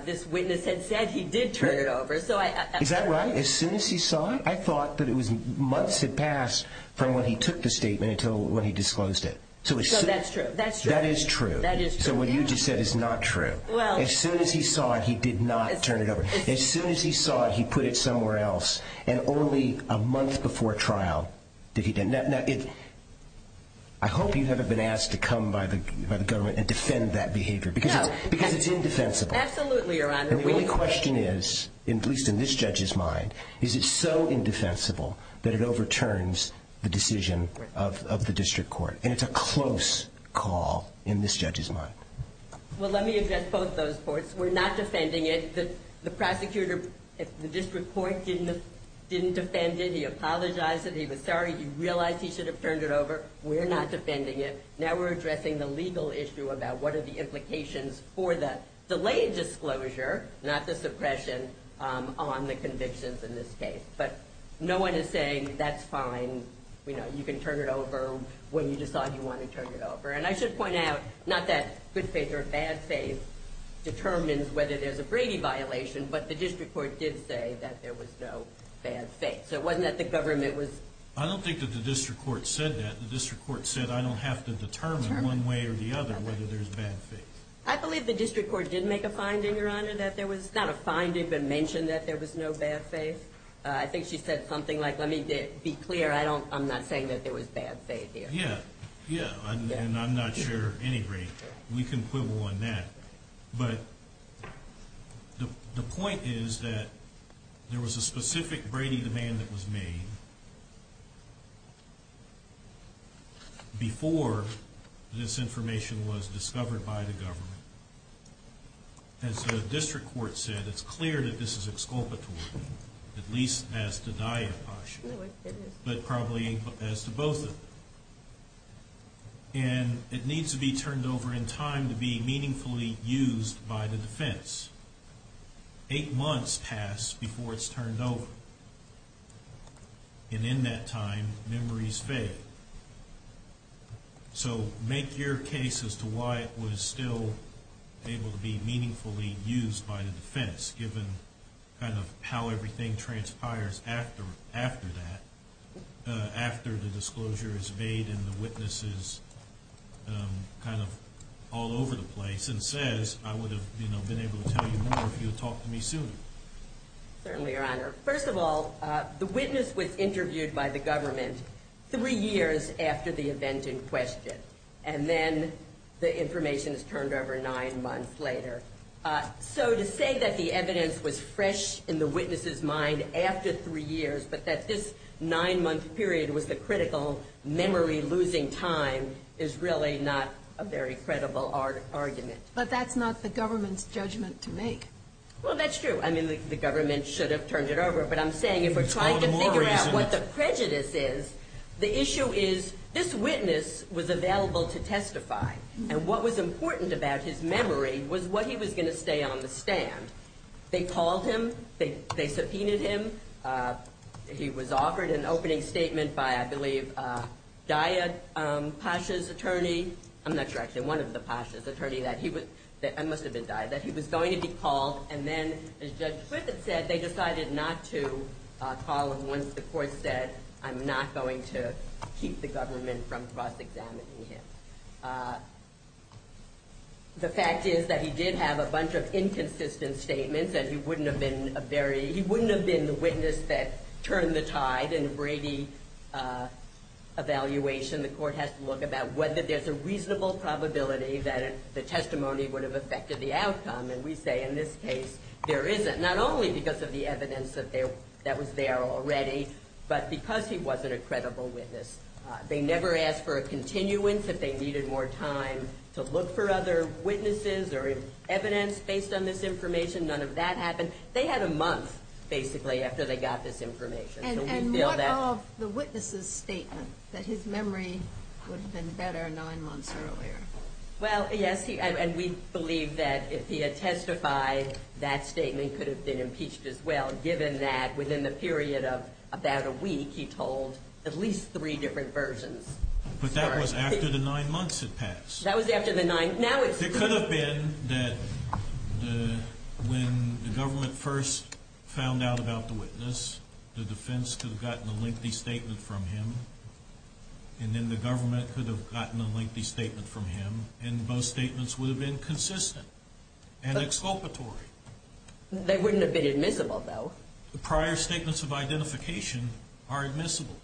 this witness had said, he did turn it over. Is that right? As soon as he saw it, I thought that it was months had passed from when he took the statement until when he disclosed it. So that's true. That is true. That is true. So what you just said is not true. Well. As soon as he saw it, he did not turn it over. As soon as he saw it, he put it somewhere else. And only a month before trial did he do it. Now, I hope you haven't been asked to come by the government and defend that behavior because it's indefensible. Absolutely, Your Honor. And the only question is, at least in this judge's mind, is it so indefensible that it overturns the decision of the district court? And it's a close call in this judge's mind. Well, let me address both those points. We're not defending it. The prosecutor at the district court didn't defend it. He apologized. He was sorry. He realized he should have turned it over. We're not defending it. Now we're addressing the legal issue about what are the implications for the delayed disclosure, not the suppression, on the convictions in this case. But no one is saying that's fine, you know, you can turn it over when you decide you want to turn it over. And I should point out, not that good faith or bad faith determines whether there's a Brady violation, but the district court did say that there was no bad faith. So it wasn't that the government was ---- I don't think that the district court said that. The district court said, I don't have to determine one way or the other whether there's bad faith. I believe the district court did make a finding, Your Honor, that there was not a finding but mentioned that there was no bad faith. I think she said something like, let me be clear, I'm not saying that there was bad faith here. Yeah, yeah. And I'm not sure any Brady. We can quibble on that. But the point is that there was a specific Brady demand that was made before this information was discovered by the government. As the district court said, it's clear that this is exculpatory, at least as to Daya Posh, but probably as to both of them. And it needs to be turned over in time to be meaningfully used by the defense. Eight months passed before it's turned over. And in that time, memories fade. So make your case as to why it was still able to be meaningfully used by the defense, given kind of how everything transpires after that, after the disclosure is made and the witness is kind of all over the place and says, I would have been able to tell you more if you had talked to me sooner. Certainly, Your Honor. First of all, the witness was interviewed by the government three years after the event in question. And then the information is turned over nine months later. So to say that the evidence was fresh in the witness's mind after three years, but that this nine-month period was the critical memory losing time, is really not a very credible argument. But that's not the government's judgment to make. Well, that's true. I mean, the government should have turned it over. But I'm saying if we're trying to figure out what the prejudice is, the issue is this witness was available to testify. And what was important about his memory was what he was going to stay on the stand. They called him. They subpoenaed him. He was offered an opening statement by, I believe, Daya Pasha's attorney. I'm not sure, actually. One of the Pashas' attorneys. I must have been Daya. That he was going to be called. And then, as Judge Clifford said, they decided not to call him once the court said, I'm not going to keep the government from cross-examining him. The fact is that he did have a bunch of inconsistent statements, and he wouldn't have been the witness that turned the tide in a Brady evaluation. The court has to look about whether there's a reasonable probability that the testimony would have affected the outcome. And we say, in this case, there isn't. Not only because of the evidence that was there already, but because he wasn't a credible witness. They never asked for a continuance if they needed more time to look for other witnesses or evidence based on this information. None of that happened. They had a month, basically, after they got this information. And what of the witness's statement that his memory would have been better nine months earlier? Well, yes, and we believe that if he had testified, that statement could have been impeached as well, given that within the period of about a week, he told at least three different versions. But that was after the nine months had passed. That was after the nine. It could have been that when the government first found out about the witness, the defense could have gotten a lengthy statement from him, and then the government could have gotten a lengthy statement from him, and both statements would have been consistent and exculpatory. They wouldn't have been admissible, though. The prior statements of identification are admissible.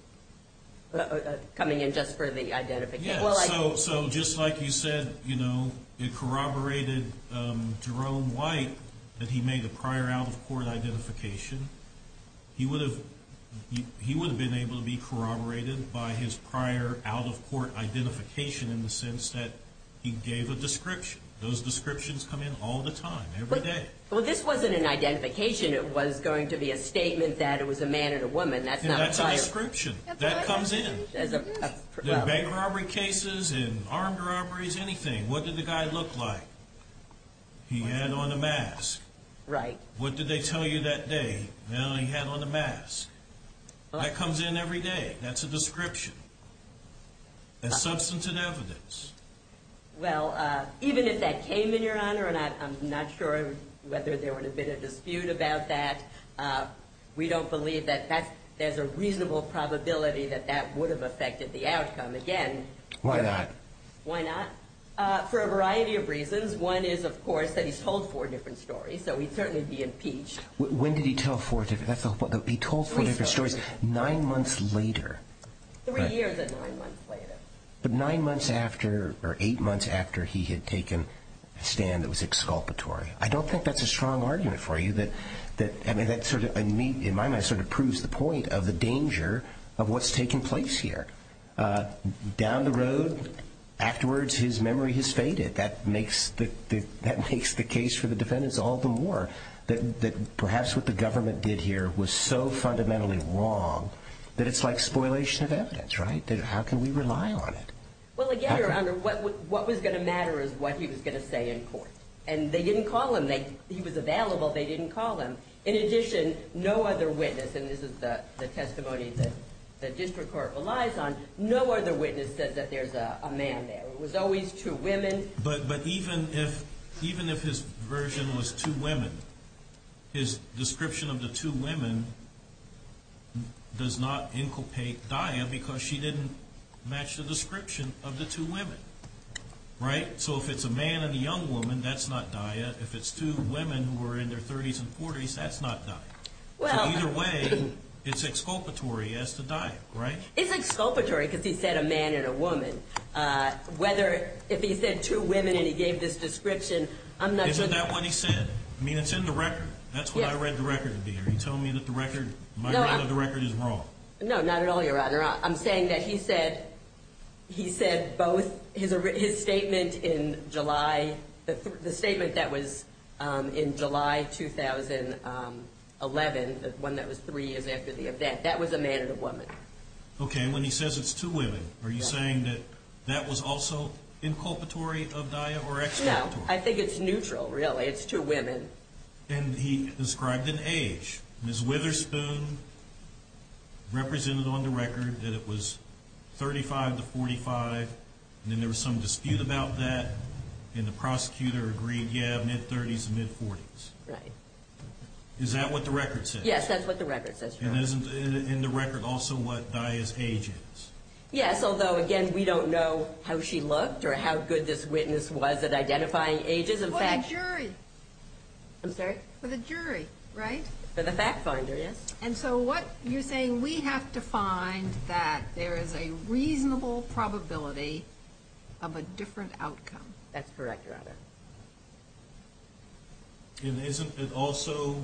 Coming in just for the identification. Yes, so just like you said, you know, it corroborated Jerome White that he made the prior out-of-court identification. He would have been able to be corroborated by his prior out-of-court identification in the sense that he gave a description. Those descriptions come in all the time, every day. Well, this wasn't an identification. It was going to be a statement that it was a man and a woman. That's a description. That comes in. In bank robbery cases, in armed robberies, anything. What did the guy look like? He had on a mask. Right. What did they tell you that day? Well, he had on a mask. That comes in every day. That's a description. That's substantive evidence. Well, even if that came in, Your Honor, and I'm not sure whether there would have been a dispute about that, we don't believe that there's a reasonable probability that that would have affected the outcome. Again. Why not? Why not? For a variety of reasons. One is, of course, that he's told four different stories, so he'd certainly be impeached. When did he tell four different stories? He told four different stories nine months later. Three years and nine months later. But nine months after or eight months after he had taken a stand that was exculpatory. I don't think that's a strong argument for you. I mean, that sort of, in my mind, sort of proves the point of the danger of what's taking place here. Down the road, afterwards, his memory has faded. That makes the case for the defendants all the more that perhaps what the government did here was so fundamentally wrong that it's like spoilation of evidence, right? How can we rely on it? Well, again, Your Honor, what was going to matter is what he was going to say in court. And they didn't call him. He was available. They didn't call him. In addition, no other witness, and this is the testimony that the district court relies on, no other witness said that there's a man there. It was always two women. But even if his version was two women, his description of the two women does not inculpate Daya because she didn't match the description of the two women, right? So if it's a man and a young woman, that's not Daya. If it's two women who were in their 30s and 40s, that's not Daya. So either way, it's exculpatory as to Daya, right? It's exculpatory because he said a man and a woman. Whether if he said two women and he gave this description, I'm not sure. Isn't that what he said? I mean, it's in the record. That's what I read the record to be. Are you telling me that the record, my reading of the record is wrong? No, not at all, Your Honor. I'm saying that he said both his statement in July, the statement that was in July 2011, the one that was three years after the event, that was a man and a woman. Okay, and when he says it's two women, are you saying that that was also inculpatory of Daya or exculpatory? No, I think it's neutral, really. It's two women. And he described an age. Ms. Witherspoon represented on the record that it was 35 to 45, and then there was some dispute about that, and the prosecutor agreed, yeah, mid-30s to mid-40s. Right. Is that what the record says? Yes, that's what the record says, Your Honor. And isn't in the record also what Daya's age is? Yes, although, again, we don't know how she looked or how good this witness was at identifying ages. For the jury. I'm sorry? For the jury, right? For the fact finder, yes. And so what you're saying, we have to find that there is a reasonable probability of a different outcome. That's correct, Your Honor. And isn't it also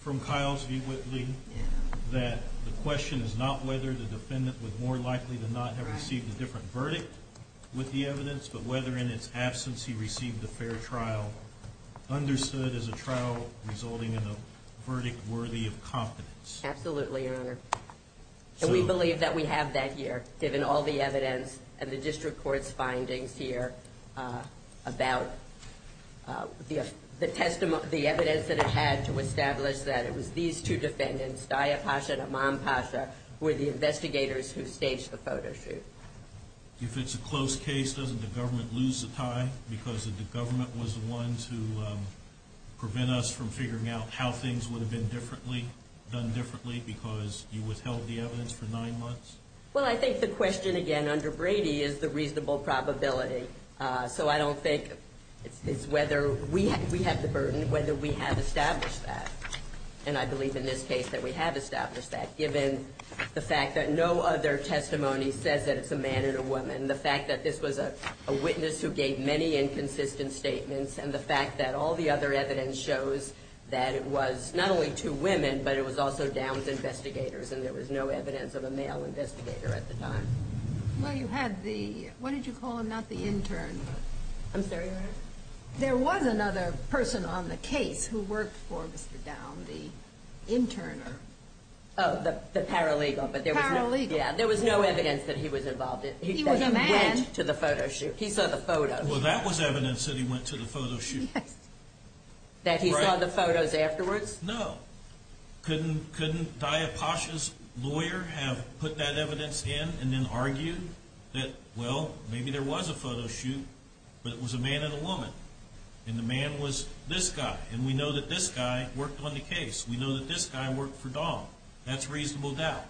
from Kyle's view, Whitley, that the question is not whether the defendant was more likely to not have received a different verdict with the evidence, but whether in its absence he received a fair trial, understood as a trial resulting in a verdict worthy of confidence? Absolutely, Your Honor. And we believe that we have that here, given all the evidence, and the district court's findings here about the evidence that it had to establish that it was these two defendants, Daya Pasha and Imam Pasha, who were the investigators who staged the photo shoot. If it's a close case, doesn't the government lose the tie, because the government was the one to prevent us from figuring out how things would have been done differently because you withheld the evidence for nine months? Well, I think the question, again, under Brady is the reasonable probability. So I don't think it's whether we have the burden, whether we have established that. And I believe in this case that we have established that, given the fact that no other testimony says that it's a man and a woman, the fact that this was a witness who gave many inconsistent statements, and the fact that all the other evidence shows that it was not only two women, but it was also Downs investigators, and there was no evidence of a male investigator at the time. Well, you had the – what did you call him? Not the intern, but – I'm sorry, Your Honor? There was another person on the case who worked for Mr. Downs, the intern. Oh, the paralegal. Paralegal. Yeah, there was no evidence that he was involved. He was a man. He said he went to the photo shoot. He saw the photos. Well, that was evidence that he went to the photo shoot. Yes. That he saw the photos afterwards? No. Couldn't Daya Pasha's lawyer have put that evidence in and then argued that, well, maybe there was a photo shoot, but it was a man and a woman. And the man was this guy, and we know that this guy worked on the case. We know that this guy worked for Downs. That's reasonable doubt.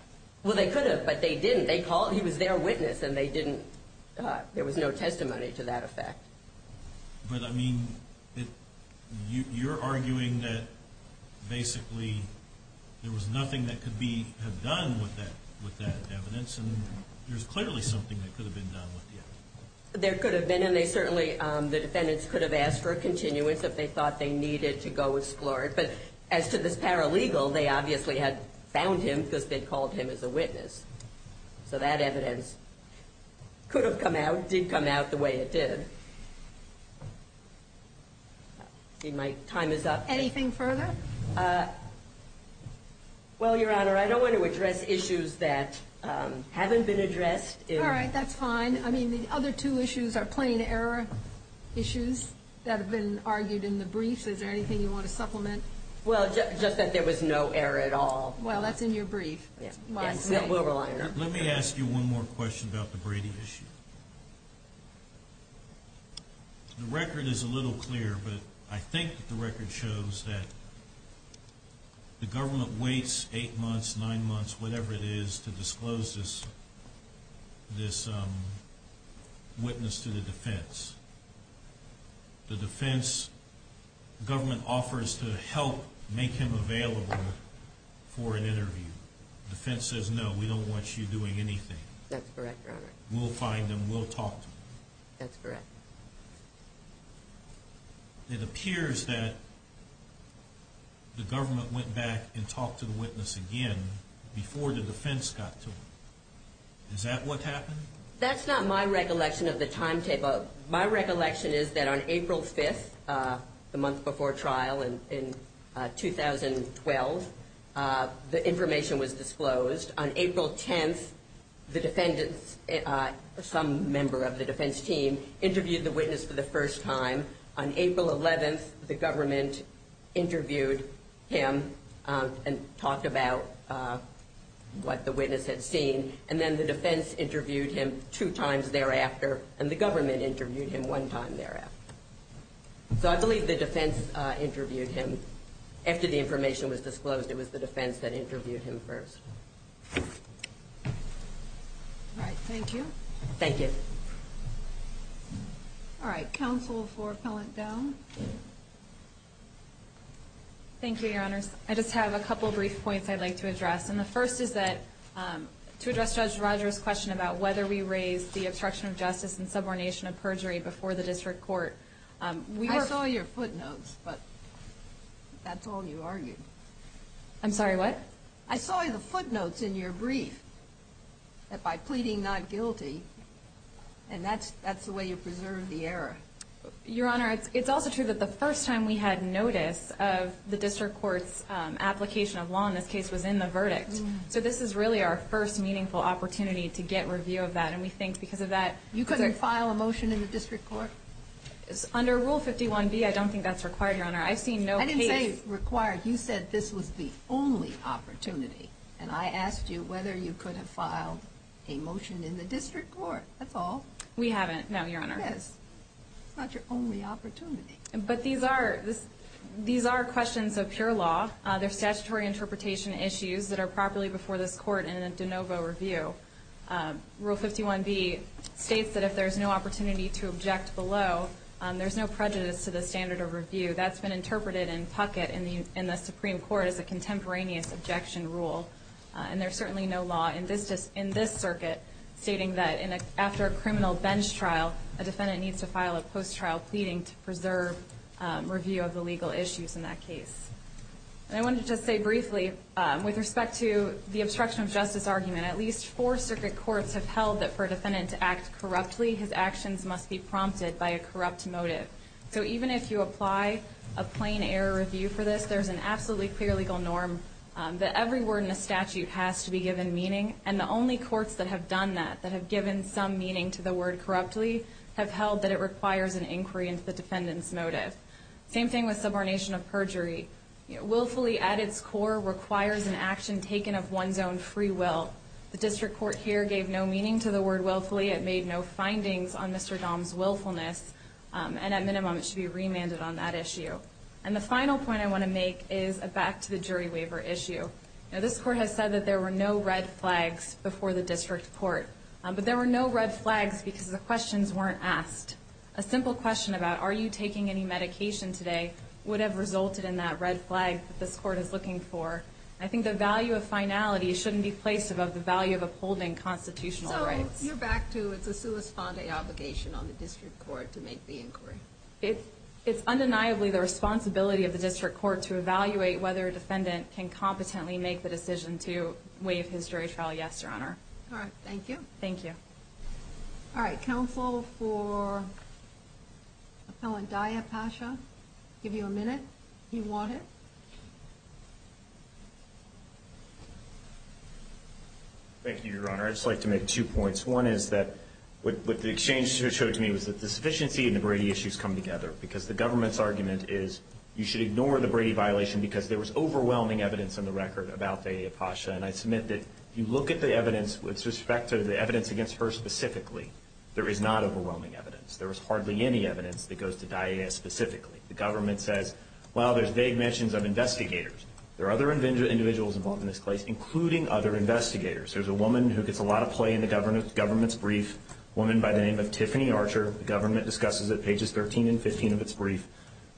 Well, they could have, but they didn't. He was their witness, and they didn't – there was no testimony to that effect. But, I mean, you're arguing that, basically, there was nothing that could have been done with that evidence, and there's clearly something that could have been done with it. There could have been, and they certainly – the defendants could have asked for a continuance if they thought they needed to go explore it. But as to this paralegal, they obviously had found him because they'd called him as a witness. So that evidence could have come out, did come out the way it did. My time is up. Anything further? Well, Your Honor, I don't want to address issues that haven't been addressed. All right, that's fine. I mean, the other two issues are plain error issues that have been argued in the briefs. Is there anything you want to supplement? Well, just that there was no error at all. Well, that's in your brief. We'll rely on it. Let me ask you one more question about the Brady issue. The record is a little clear, but I think the record shows that the government waits eight months, nine months, whatever it is, to disclose this witness to the defense. The defense government offers to help make him available for an interview. The defense says, no, we don't want you doing anything. That's correct, Your Honor. We'll find him. We'll talk to him. That's correct. It appears that the government went back and talked to the witness again before the defense got to him. Is that what happened? That's not my recollection of the timetable. My recollection is that on April 5th, the month before trial in 2012, the information was disclosed. On April 10th, the defendants, some member of the defense team, interviewed the witness for the first time. On April 11th, the government interviewed him and talked about what the witness had seen, and then the defense interviewed him two times thereafter, and the government interviewed him one time thereafter. So I believe the defense interviewed him after the information was disclosed. It was the defense that interviewed him first. All right. Thank you. Thank you. All right. Counsel for Pellant Dome. Thank you, Your Honors. I just have a couple brief points I'd like to address. And the first is that to address Judge Roger's question about whether we raised the obstruction of justice and subordination of perjury before the district court. I saw your footnotes, but that's all you argued. I'm sorry, what? I saw the footnotes in your brief by pleading not guilty, and that's the way you preserved the error. Your Honor, it's also true that the first time we had notice of the district court's application of law, and this case was in the verdict. So this is really our first meaningful opportunity to get review of that, and we think because of that. You couldn't file a motion in the district court? Under Rule 51B, I don't think that's required, Your Honor. I've seen no case. I didn't say required. You said this was the only opportunity, and I asked you whether you could have filed a motion in the district court. That's all. We haven't, no, Your Honor. Yes. It's not your only opportunity. But these are questions of pure law. They're statutory interpretation issues that are properly before this court in a de novo review. Rule 51B states that if there's no opportunity to object below, there's no prejudice to the standard of review. That's been interpreted in Puckett in the Supreme Court as a contemporaneous objection rule. And there's certainly no law in this circuit stating that after a criminal bench trial, a defendant needs to file a post-trial pleading to preserve review of the legal issues in that case. And I wanted to just say briefly, with respect to the obstruction of justice argument, at least four circuit courts have held that for a defendant to act corruptly, his actions must be prompted by a corrupt motive. So even if you apply a plain error review for this, there's an absolutely clear legal norm that every word in the statute has to be given meaning, and the only courts that have done that, that have given some meaning to the word corruptly, have held that it requires an inquiry into the defendant's motive. Same thing with subordination of perjury. Willfully, at its core, requires an action taken of one's own free will. The district court here gave no meaning to the word willfully. It made no findings on Mr. Dahm's willfulness. And at minimum, it should be remanded on that issue. And the final point I want to make is a back-to-the-jury waiver issue. Now, this court has said that there were no red flags before the district court, but there were no red flags because the questions weren't asked. A simple question about, are you taking any medication today, would have resulted in that red flag that this court is looking for. I think the value of finality shouldn't be placed above the value of upholding constitutional rights. So you're back to it's a sua sponde obligation on the district court to make the inquiry. It's undeniably the responsibility of the district court to evaluate whether a defendant can competently make the decision to waive his jury trial. Yes, Your Honor. All right. Thank you. Thank you. All right. Counsel for Appellant Daya Pasha. I'll give you a minute if you want it. Thank you, Your Honor. I'd just like to make two points. One is that what the exchange showed to me was that the sufficiency and the Brady issues come together because the government's argument is you should ignore the Brady violation because there was overwhelming evidence on the record about Daya Pasha. And I submit that if you look at the evidence with respect to the evidence against her specifically, there is not overwhelming evidence. There is hardly any evidence that goes to Daya specifically. The government says, well, there's vague mentions of investigators. There are other individuals involved in this case, including other investigators. There's a woman who gets a lot of play in the government's brief, a woman by the name of Tiffany Archer. The government discusses it, pages 13 and 15 of its brief,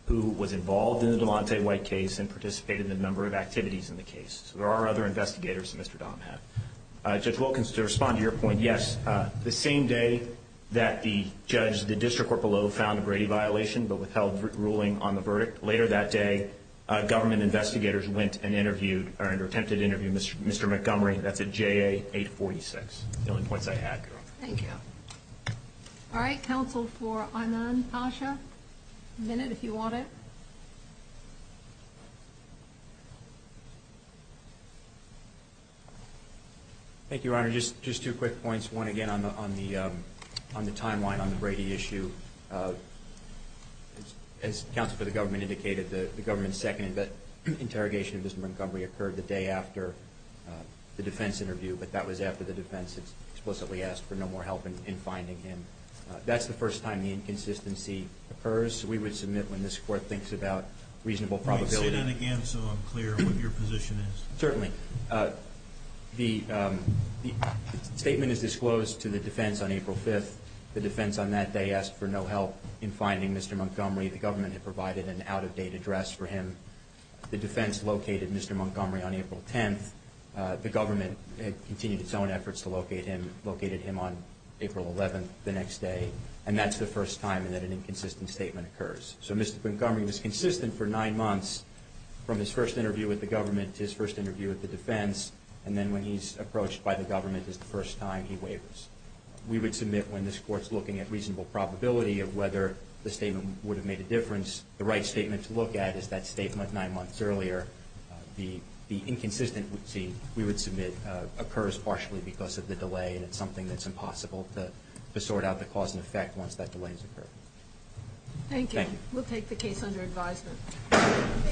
who was involved in the Delante White case and participated in a number of activities in the case. So there are other investigators that Mr. Dahm had. Judge Wilkins, to respond to your point, yes, the same day that the judge, the district court below found a Brady violation but withheld ruling on the verdict, later that day government investigators went and interviewed or attempted to interview Mr. Montgomery. That's at JA 846. The only points I had, Your Honor. Thank you. All right. Counsel for Anand Pasha? A minute if you want it. Thank you, Your Honor. Just two quick points. One, again, on the timeline on the Brady issue, as counsel for the government indicated, the government's second interrogation of Mr. Montgomery occurred the day after the defense interview, but that was after the defense explicitly asked for no more help in finding him. That's the first time the inconsistency occurs. We would submit when this court thinks about reasonable probability. Say that again so I'm clear on what your position is. Certainly. The statement is disclosed to the defense on April 5th. The defense on that day asked for no help in finding Mr. Montgomery. The government had provided an out-of-date address for him. The defense located Mr. Montgomery on April 10th. The government had continued its own efforts to locate him, located him on April 11th the next day, and that's the first time that an inconsistent statement occurs. So Mr. Montgomery was consistent for nine months from his first interview with the government to his first interview with the defense, and then when he's approached by the government is the first time he wavers. We would submit when this court's looking at reasonable probability of whether the statement would have made a difference, the right statement to look at is that statement nine months earlier. The inconsistent we would submit occurs partially because of the delay and it's something that's impossible to sort out the cause and effect once that delay has occurred. Thank you. We'll take the case under advisement.